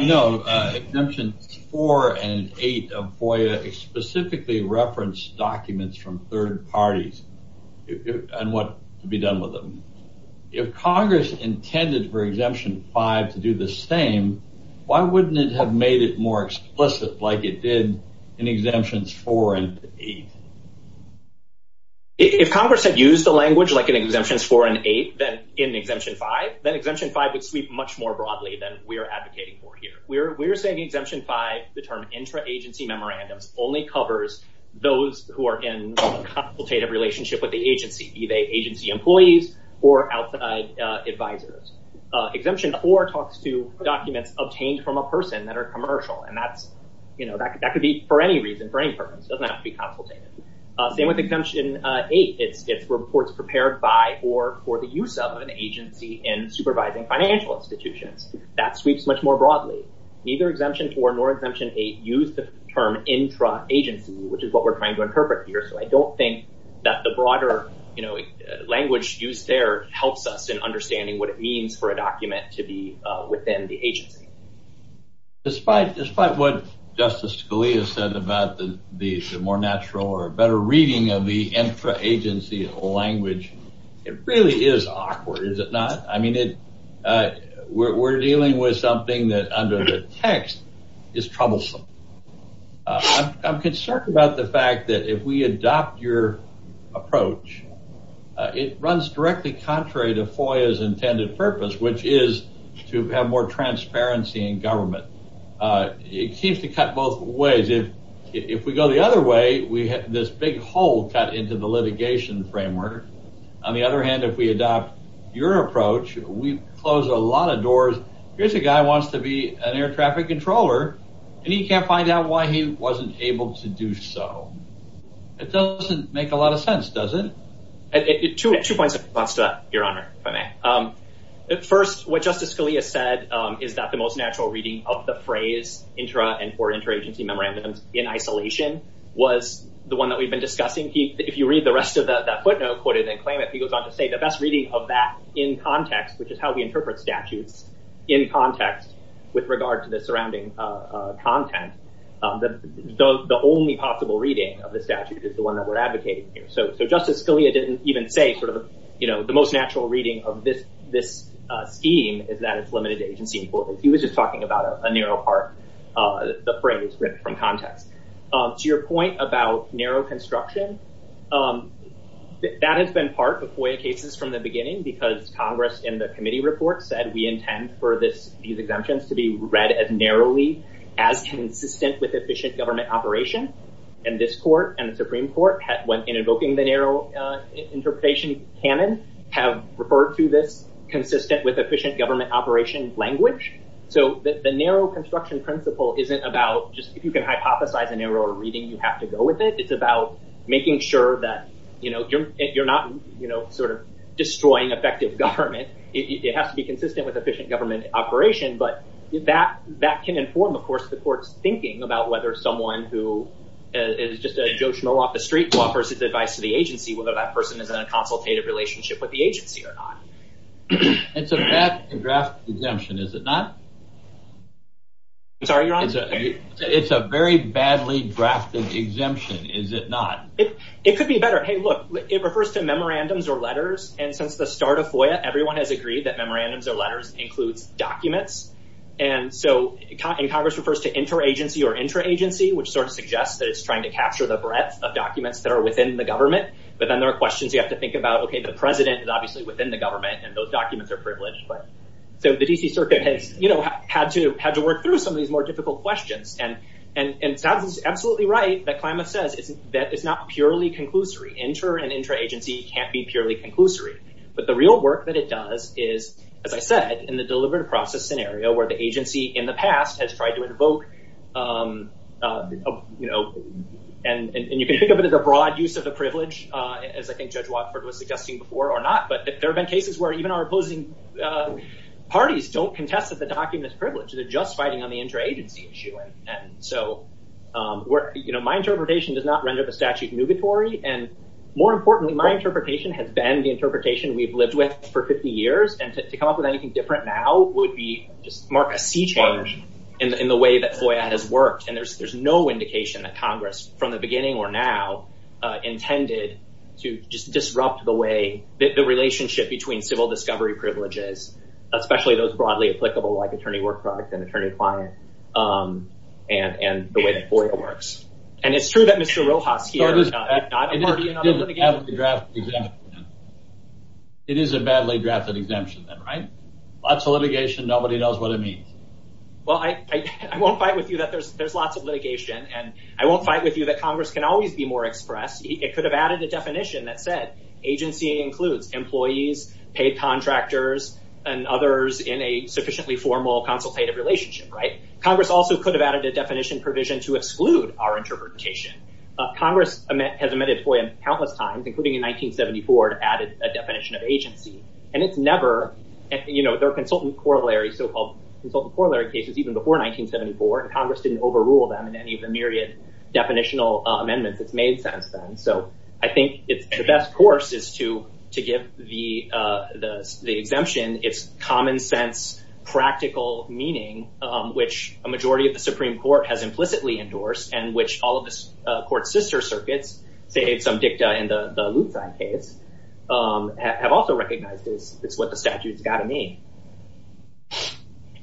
know, exemption 4 and 8 of FOIA specifically reference documents from third parties and what can be done with them. If Congress intended for Exemption 5 to do the same, why wouldn't it have made it more explicit like it did in Exemptions 4 and 8? If Congress had used the language like in Exemptions 4 and 8 in Exemption 5, then Exemption 5 would speak much more broadly than we're advocating for here. We're saying Exemption 5, the term intra-agency memorandum, only covers those who are in consultative relationship with the agency, be they agency employees or outside advisors. Exemption 4 talks to documents obtained from a person that are commercial, and that's, you know, that could be for any reason, for any purpose. It doesn't have to be consultative. Then with Exemption 8, it reports prepared by or for the use of an agency in supervising financial institutions. That speaks much more broadly. Neither Exemption 4 nor Exemption 8 use the term intra-agency, which is what we're trying to interpret here, so I don't think that the broader, you know, language used there helps us in understanding what it means for a document to be within the agency. Despite what Justice Scalia says about the more natural or better reading of the intra-agency language, it really is awkward, is it not? I mean, we're dealing with something that under the text is troublesome. I'm concerned about the fact that if we adopt your approach, it runs directly contrary to FOIA's intended purpose, which is to have more transparency in government. It seems to cut both ways. If we go the other way, we have this big hole cut into the litigation framework. On the other hand, if we adopt your approach, we close a lot of doors. Here's a guy who wants to be an air traffic controller, and he can't find out why he wasn't able to do so. It doesn't make a lot of sense, does it? Two points of response to that, Your Honor. First, what Justice Scalia said is that the most natural reading of the phrase intra- and for intra-agency memorandums in isolation was the one that we've been discussing. If you read the rest of that footnote quoted in the claimant, he goes on to say the best reading of that in context, which is how we interpret statutes, in context with regard to the surrounding content, the only possible reading of the statute is the one that we're advocating here. So Justice Scalia didn't even say the most natural reading of this scheme is that it's to your point about narrow construction. That has been part of FOIA cases from the beginning, because Congress, in the committee report, said we intend for these exemptions to be read as narrowly as consistent with efficient government operation. And this court and the Supreme Court, when invoking the narrow interpretation canon, have referred to this consistent with efficient government operation language. So the narrow construction principle isn't about just, if you can hypothesize a narrow reading, you have to go with it. It's about making sure that you're not sort of destroying effective government. It has to be consistent with efficient government operation. But that can inform, of course, the court's thinking about whether someone who is just a joshua off the street who offers his advice to the agency, whether that person is in a consultative relationship with the agency or not. It's a bad draft exemption, is it not? It's a very badly drafted exemption, is it not? It could be better. Hey, look, it refers to memorandums or letters. And since the start of FOIA, everyone has agreed that memorandums or letters include documents. And so Congress refers to inter-agency or intra-agency, which sort of suggests that it's trying to capture the breadth of documents that are within the government. But then there are questions you have to think about, okay, the president is obviously within the government and those documents are privileged. But the D.C. Circuit had to work through some of these more difficult questions. And Doug was absolutely right that climate says that it's not purely conclusory. Inter- and intra-agency can't be purely conclusory. But the real work that it does is, as I said, in the deliberate process scenario where the agency in the past has tried to invoke, and you can think of it as a broad use of the privilege, as I think Judge where even our opposing parties don't contest that the document is privileged. They're just fighting on the intra-agency issue. And so, you know, my interpretation does not render the statute nugatory. And more importantly, my interpretation has been the interpretation we've lived with for 50 years. And to come up with anything different now would be a sea change in the way that FOIA has worked. And there's no indication that Congress, from the beginning or now, intended to just disrupt the way that the relationship between civil discovery privileges, especially those broadly applicable like attorney work products and attorney clients, and the way that FOIA works. And it's true that Mr. Rochofsky- It is a badly drafted exemption then, right? Lots of litigation, nobody knows what it means. Well, I won't fight with you that there's lots of litigation. And I won't fight with you that it could have added a definition that said agency includes employees, paid contractors, and others in a sufficiently formal consultative relationship, right? Congress also could have added a definition provision to exclude our interpretation. Congress has amended FOIA countless times, including in 1974, to add a definition of agency. And it's never, you know, their consultant corollary, so-called consultant corollary cases, even before 1974, Congress didn't overrule them in any of the myriad definitional amendments it's made since then. So, I think the best course is to give the exemption its common sense, practical meaning, which a majority of the Supreme Court has implicitly endorsed, and which all of the court's sister circuits, say some dicta in the Lucan case, have also recognized is what the statute's got to mean.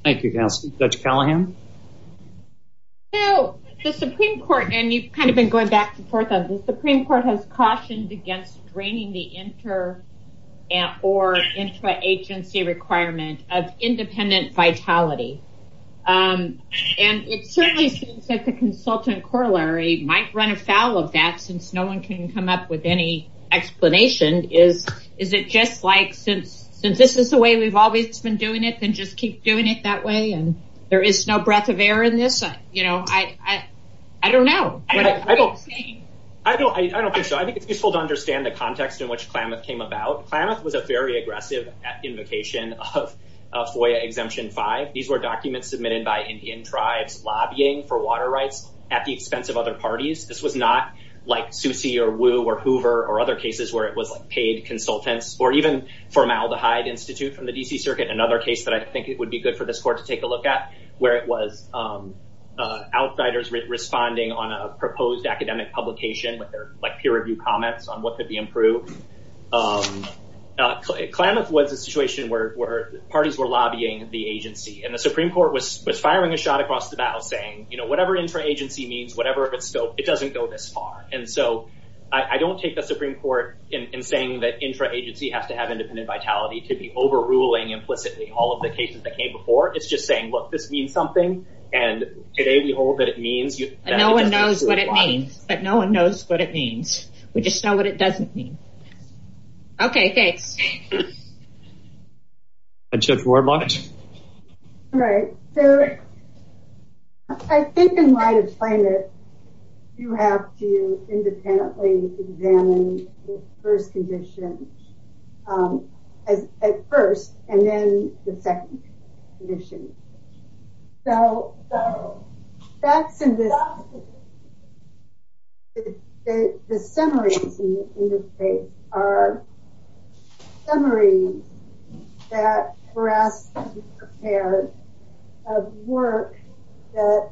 Thank you, Justice. Judge Callahan? So, the Supreme Court, and you've kind of been going back and forth on this, the Supreme Court has cautioned against draining the inter- or intra-agency requirement of independent vitality. And it certainly seems that the consultant corollary might run afoul of that, since no one can come up with any explanation. Is it just like, since this is the way we've always been doing it, and just keep doing it that way, and there is no breath of air in this? You know, I don't know. I don't think so. I think it's useful to understand the context in which CLAMIPP came about. CLAMIPP was a very aggressive invocation of FOIA Exemption 5. These were documents submitted by Indian tribes lobbying for water rights at the expense of other parties. This was not like Suse or Wu or Hoover or other cases where it was like paid consultants, or even formaldehyde institute from the D.C. Circuit, another case that I think it would be good for this court to take a look at, where it was outsiders responding on a proposed academic publication with their peer-reviewed comments on what could be improved. CLAMIPP was a situation where parties were lobbying the agency, and the Supreme Court was firing a shot across the bow, saying, you know, whatever intra-agency means, whatever, so it doesn't go this far. And so, I don't take the Supreme Court in saying that intra-agency has to have independent vitality to be overruling implicitly all of the cases that came before. It's just saying, look, this means something, and today, behold, it means... No one knows what it means, but no one knows what it means. We just know what it doesn't mean. Okay, thanks. All right, so I think in light of CLAMIPP, you have to independently examine the first condition, at first, and then the second condition. So, that's the summary in this case, are summaries that were asked to be prepared of work that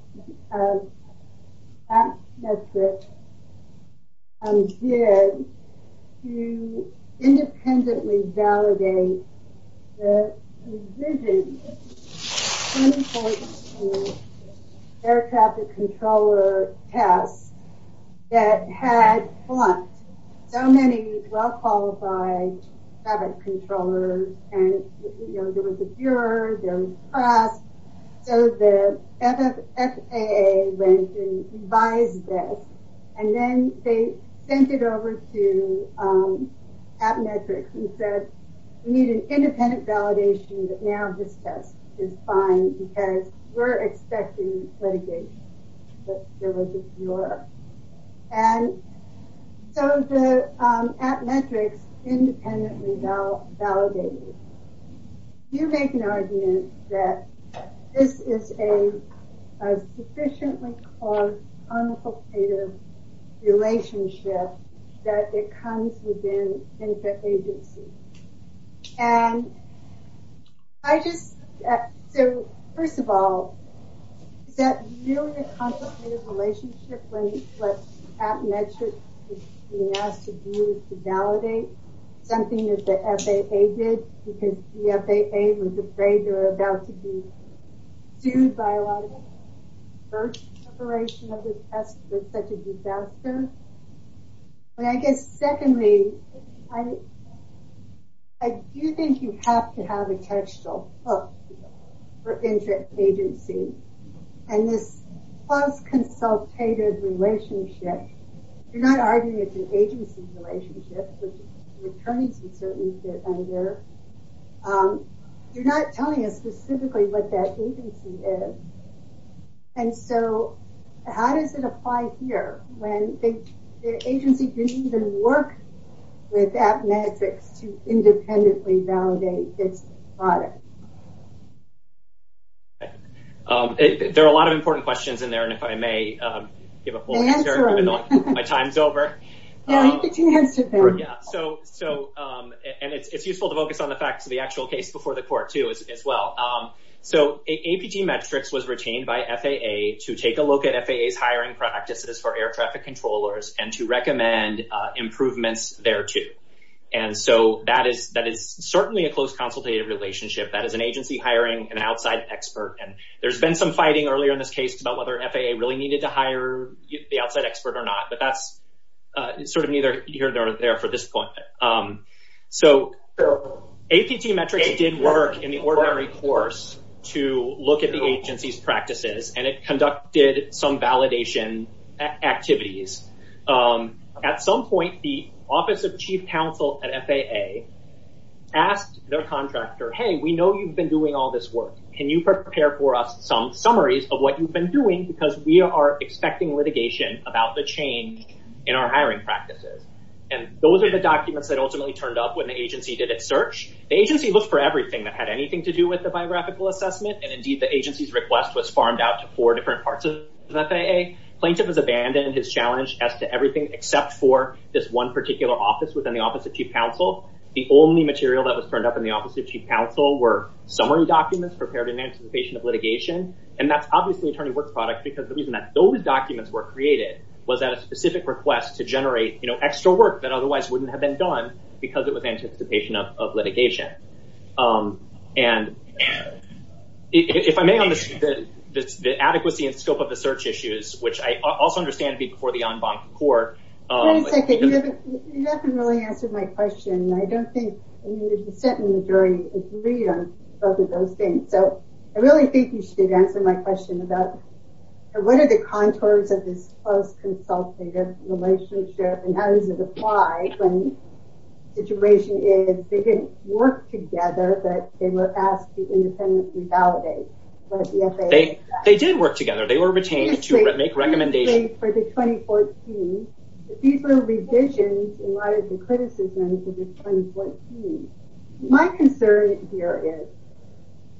that message did to independently validate the revision of the air traffic controller cap that had flunked so many well-qualified traffic controllers, and, you know, there was a juror, there was a press, so the FAA went and revised that, and then they sent it over to ATMETRICS and said, we need an independent validation that now this test is fine because we're expecting litigation, but there was a juror. And so, the ATMETRICS independently validated. You make an argument that this is a sufficiently-caused, complicated relationship that it comes within interagency, and I just... So, first of all, that really complicated relationship when ATMETRICS is being asked to do is to validate something that the FAA did, because the FAA was afraid they were about to be sued by a lot of people. The first iteration of this test was such a disaster. And I guess, secondly, I do think you have to have a textual book for interagency, and this post-consultative relationship, you're not arguing it's an agency relationship, it's coming to certainty under. You're not telling us specifically what that agency is. And so, how does it apply here, when the agency didn't even work with ATMETRICS to independently validate this product? There are a lot of important questions in there, and if I may give a full answer, my time's over. So, and it's useful to focus on the facts of the actual case before the court, too, as well. So, ATMETRICS was retained by FAA to take a look at FAA's hiring practices for air traffic controllers and to recommend improvements thereto. And so, that is certainly a close consultative relationship. That is an agency hiring an outside expert, and there's been some cases about whether FAA really needed to hire the outside expert or not, but that's sort of neither here nor there for this point. So, ATCMETRICS did work in the ordinary course to look at the agency's practices, and it conducted some validation activities. At some point, the Office of Chief Counsel at FAA asked their contractor, hey, we know you've been all this work. Can you prepare for us some summaries of what you've been doing? Because we are expecting litigation about the change in our hiring practices. And those are the documents that ultimately turned up when the agency did its search. The agency looked for everything that had anything to do with the biographical assessment, and indeed, the agency's request was farmed out to four different parts of FAA. Plaintiff has abandoned his challenge as to everything except for this one particular office within the Office of Chief Counsel. The only material that was turned up in the Office of Chief Counsel were summary documents prepared in anticipation of litigation, and that's obviously attorney work products because the reason that those documents were created was that a specific request to generate extra work that otherwise wouldn't have been done because it was anticipation of litigation. And if I may, on the adequacy and scope of the search issues, which I also understand before the en banc court... You haven't really answered my question. I don't think the majority agreed on both of those things. So I really think you should answer my question about what are the contours of this close consultative relationship and how does it apply when the situation is they didn't work together, but they were asked to independently validate. They did work together. They were retained to make recommendations. For the 2014, these were revisions in light of the criticisms of the 2014. My concern here is,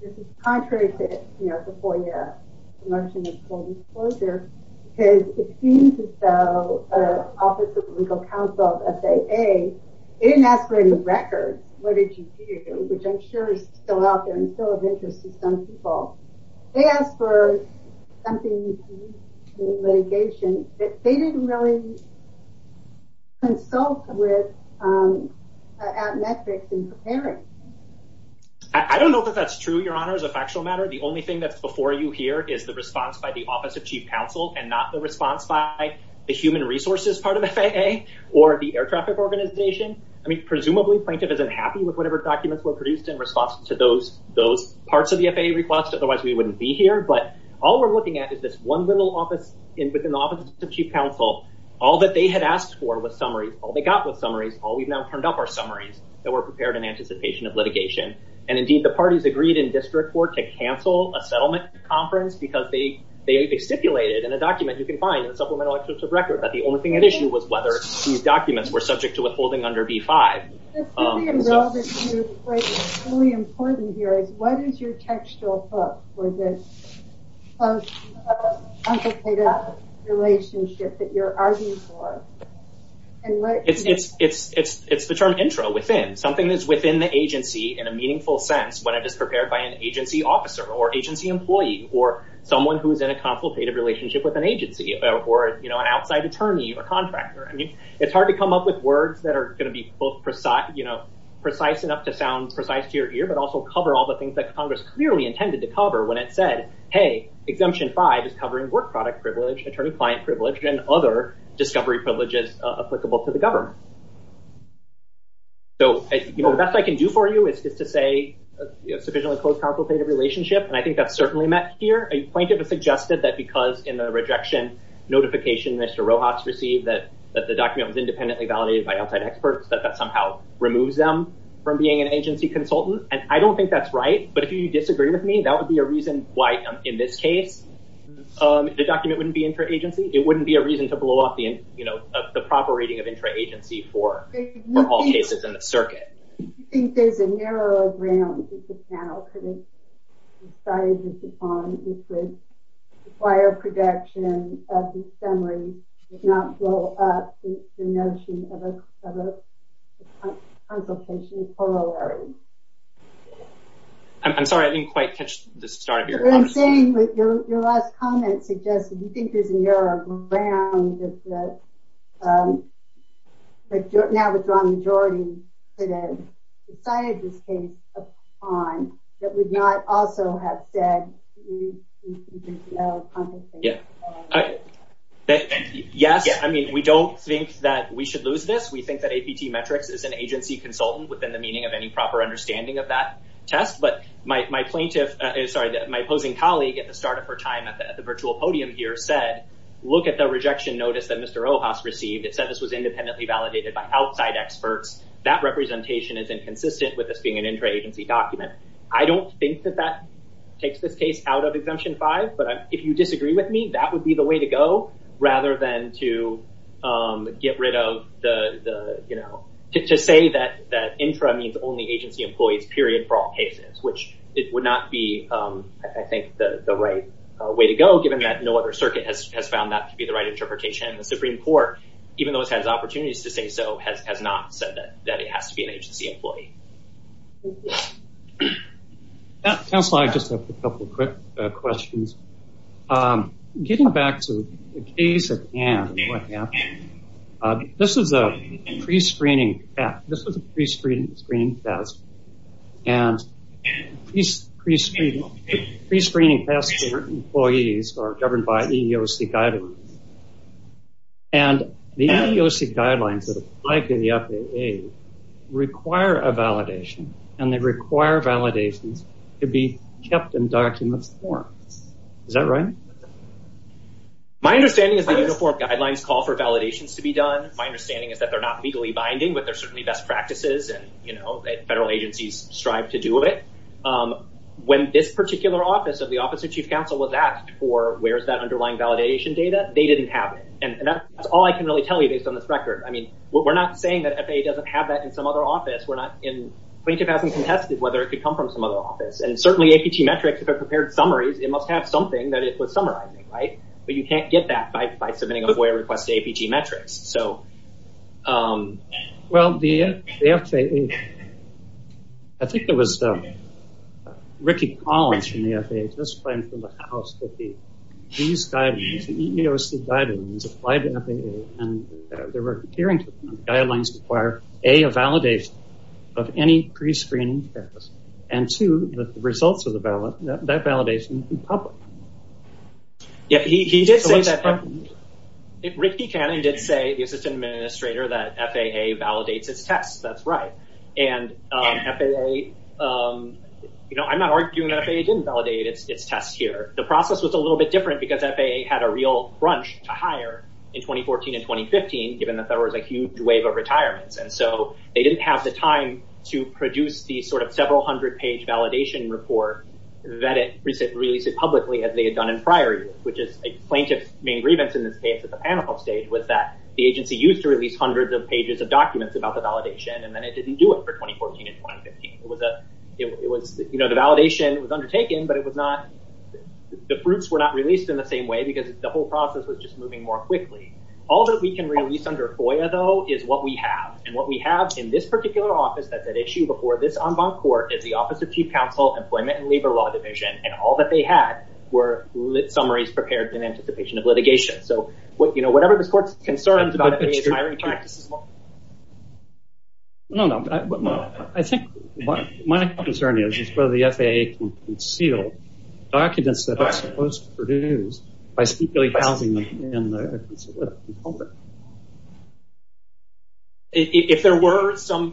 this is contrary to, you know, the four-year commercial disclosure, because it seems as though Office of Legal Counsel of FAA, they didn't ask for any records. What did you do? Which I'm sure is still out there and still of interest to some people. They asked for something in litigation, but they didn't really consult with our metrics in preparing. I don't know if that's true, Your Honor, as a factual matter. The only thing that's before you here is the response by the Office of Chief Counsel and not the response by the human resources part of FAA or the air traffic organization. I mean, presumably, Frank isn't happy with whatever documents were produced in response to those parts of the FAA request. Otherwise, we wouldn't be here. But all we're looking at is this one little office within the Office of Chief Counsel. All that they had asked for was summaries. All they got was summaries. All we've now turned up are summaries that were prepared in anticipation of litigation. And indeed, the parties agreed in discrete court to cancel a settlement conference because they stipulated in a document you can find in the Supplemental Excerpts of Records that the only thing at issue was whether these documents were subject to withholding under B-5. This is really important here. What is your textual hook for this complicated relationship that you're arguing for? It's the term intro, within. Something is within the agency in a meaningful sense when it is prepared by an agency officer or agency employee or someone who's in a complicated relationship with an agency or an outside attorney or contractor. I mean, it's hard to come up with words that are going to be both precise enough to sound precise to your ear, but also cover all the things that Congress clearly intended to cover when it said, hey, Exemption 5 is covering work product privilege, attorney-client privilege, and other discovery privileges applicable to the government. So the best I can do for you is just to say a sufficiently close, complicated relationship. And I think that's certainly met here. A plaintiff has suggested that because in the rejection notification Mr. Rojas received that the document was independently validated by outside experts, that that somehow removes them from being an agency consultant. And I don't think that's right. But if you disagree with me, that would be a reason why in this case, the document wouldn't be intra-agency. It wouldn't be a reason to blow off the proper rating of intra-agency for all cases in the circuit. I think there's a narrow ground that this panel could have decided upon if the prior reduction of the summary did not blow up the notion of a consultation for all areas. I'm sorry, I didn't quite catch the start of your question. What I'm saying is your last comment suggests that you think there's a narrow ground that now the majority could have decided to take upon that would not also have said that. Yes. We don't think that we should lose this. We think that APT Metrics is an agency consultant within the meaning of any proper understanding of that test. But my opposing colleague at the start of her time at the virtual podium here said, look at the rejection notice that Mr. Rojas received. It said this was independently validated by outside experts. That representation is inconsistent with this being an intra-agency document. I don't think that that takes the exemption out of exemption five. But if you disagree with me, that would be the way to go rather than to get rid of the, you know, to say that intra means only agency employees, period, for all cases, which it would not be, I think, the right way to go given that no other circuit has found that to be the right interpretation. The Supreme Court, even though it has opportunities to say so, has not said that it has to be an agency employee. Yes. Council, I just have a couple of quick questions. Getting back to the case at hand, this is a prescreening test. This is a prescreening test. And prescreening tests for employees are governed by EEOC guidelines. And the EEOC guidelines that and they require validations to be kept in document form. Is that right? My understanding is the EEOC guidelines call for validations to be done. My understanding is that they're not legally binding, but there's certainly best practices and, you know, federal agencies strive to do it. When this particular office of the Office of Chief Counsel was asked for where's that underlying validation data, they didn't have it. And that's all I can really tell you based on this record. I mean, we're not saying that FAA doesn't have that in some other office. We're not going to have to be contested whether it could come from some other office. And certainly APG metrics, if it prepared summaries, it must have something that is what summarizes it, right? But you can't get that by submitting a FOIA request to APG metrics. So... Well, the FAA, I think it was Ricky Collins from the FAA. He was from the FAA. He did say a validation of any pre-screening test. And two, the results of that validation in public. Yeah, he did say that. Ricky Cannon did say, the assistant administrator, that FAA validates its tests. That's right. And FAA, you know, I'm not arguing FAA didn't validate its tests here. The process was a little bit different because FAA had a real crunch to hire in 2014 and so they didn't have the time to produce the sort of several hundred page validation report that it released publicly as they had done in prior years, which is a plaintiff's main grievance in this case at the PANELPOP stage was that the agency used to release hundreds of pages of documents about the validation and then it didn't do it for 2014 and 2015. It was, you know, the validation was undertaken, but it was not, the fruits were not released in the same way because the whole process was just moving more quickly. All that we can release under FOIA though is what we have in this particular office at that issue before this en banc court is the office of chief counsel employment and labor law division. And all that they had were summaries prepared in anticipation of litigation. So, you know, whatever the court's concerns about the behavior. No, no, I think my concern is whether the FAA can conceal documents that are supposed to produce by secretly filing them in the office. If there were some,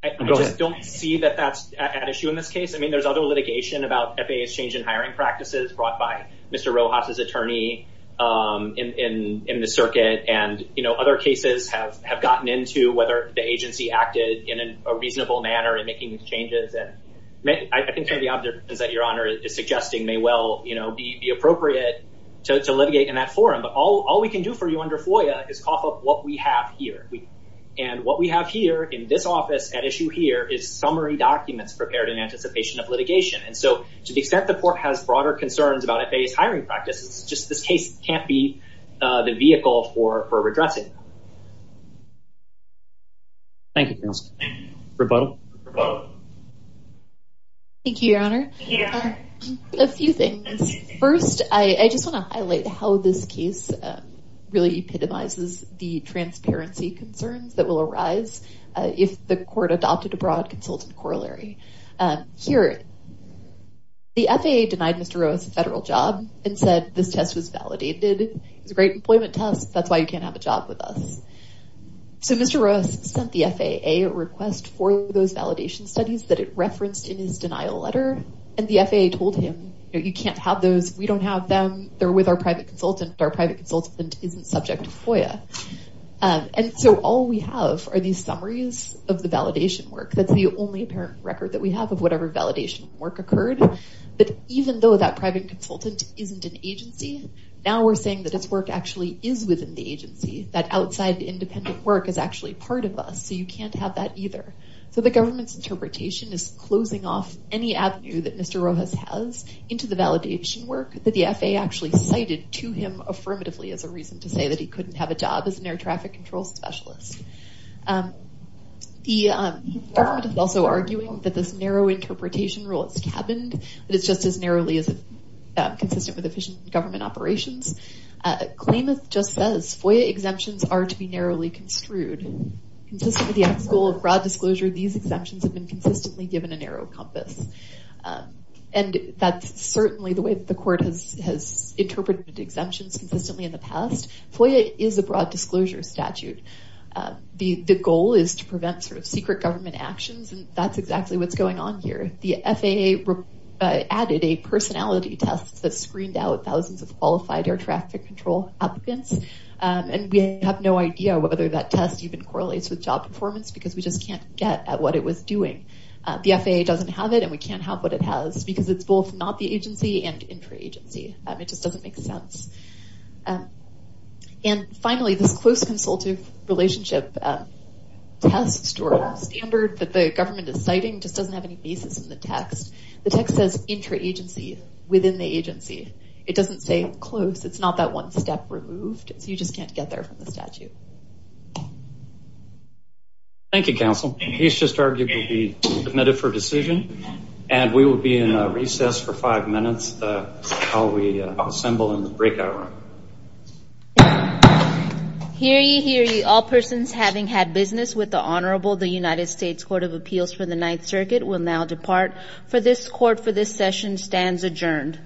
I don't see that that's an issue in this case. I mean, there's other litigation about FAA's change in hiring practices brought by Mr. Rojas's attorney in the circuit and, you know, other cases have gotten into whether the agency acted in a reasonable manner in making these changes. And I think kind of the suggesting may well, you know, be appropriate to litigate in that forum, but all we can do for you under FOIA is cough up what we have here. And what we have here in this office at issue here is summary documents prepared in anticipation of litigation. And so to the extent the court has broader concerns about FAA's hiring practice, it's just this case can't be the vehicle for redressing. Thank you. Rebuttal. Thank you, Your Honor. A few things. First, I just want to highlight how this case really epitomizes the transparency concerns that will arise if the court adopted a broad concealment corollary. Here, the FAA denied Mr. Rojas a federal job and said this test was validated. Great employment test. That's why you can't have a job with us. So Mr. Rojas sent the FAA a request for those validation studies that it referenced in his denial letter. And the FAA told him that you can't have those. We don't have them. They're with our private consultant. Our private consultant isn't subject to FOIA. And so all we have are these summaries of the validation work. That's the only apparent record that we have of whatever validation work occurred. But even though that private consultant isn't an agency, now we're saying that his work actually is within the agency, that outside the independent work is actually part of us. So you can't have that either. So the government's interpretation is closing off any avenue that Mr. Rojas has into the validation work that the FAA actually cited to him affirmatively as a reason to say that he couldn't have a job as an air traffic control specialist. The government is also arguing that this narrow compass is consistent with efficient government operations. Claimant just says FOIA exemptions are to be narrowly construed. Consistent with the goal of broad disclosure, these exemptions have been consistently given a narrow compass. And that's certainly the way the court has interpreted the exemptions consistently in the past. FOIA is a broad disclosure statute. The goal is to prevent sort of secret government actions. And that's exactly what's going on here. The FAA added a personality test that screened out thousands of qualified air traffic control applicants. And we have no idea whether that test even correlates with job performance, because we just can't get at what it was doing. The FAA doesn't have it, and we can't have what it has, because it's both not the agency and intra-agency. That just doesn't make sense. And finally, the close consultative relationship test to a standard that the government is citing just doesn't have any basis in the text. The text says intra-agency within the agency. It doesn't say close. It's not that one step removed. You just can't get there from the statute. Thank you, counsel. He's just argued to be submitted for decision, and we will be in recess for five minutes while we assemble in the breakout room. Hear ye, hear ye, all persons having had business with the Honorable United States Court of Appeals, the circuit will now depart. The court for this session stands adjourned.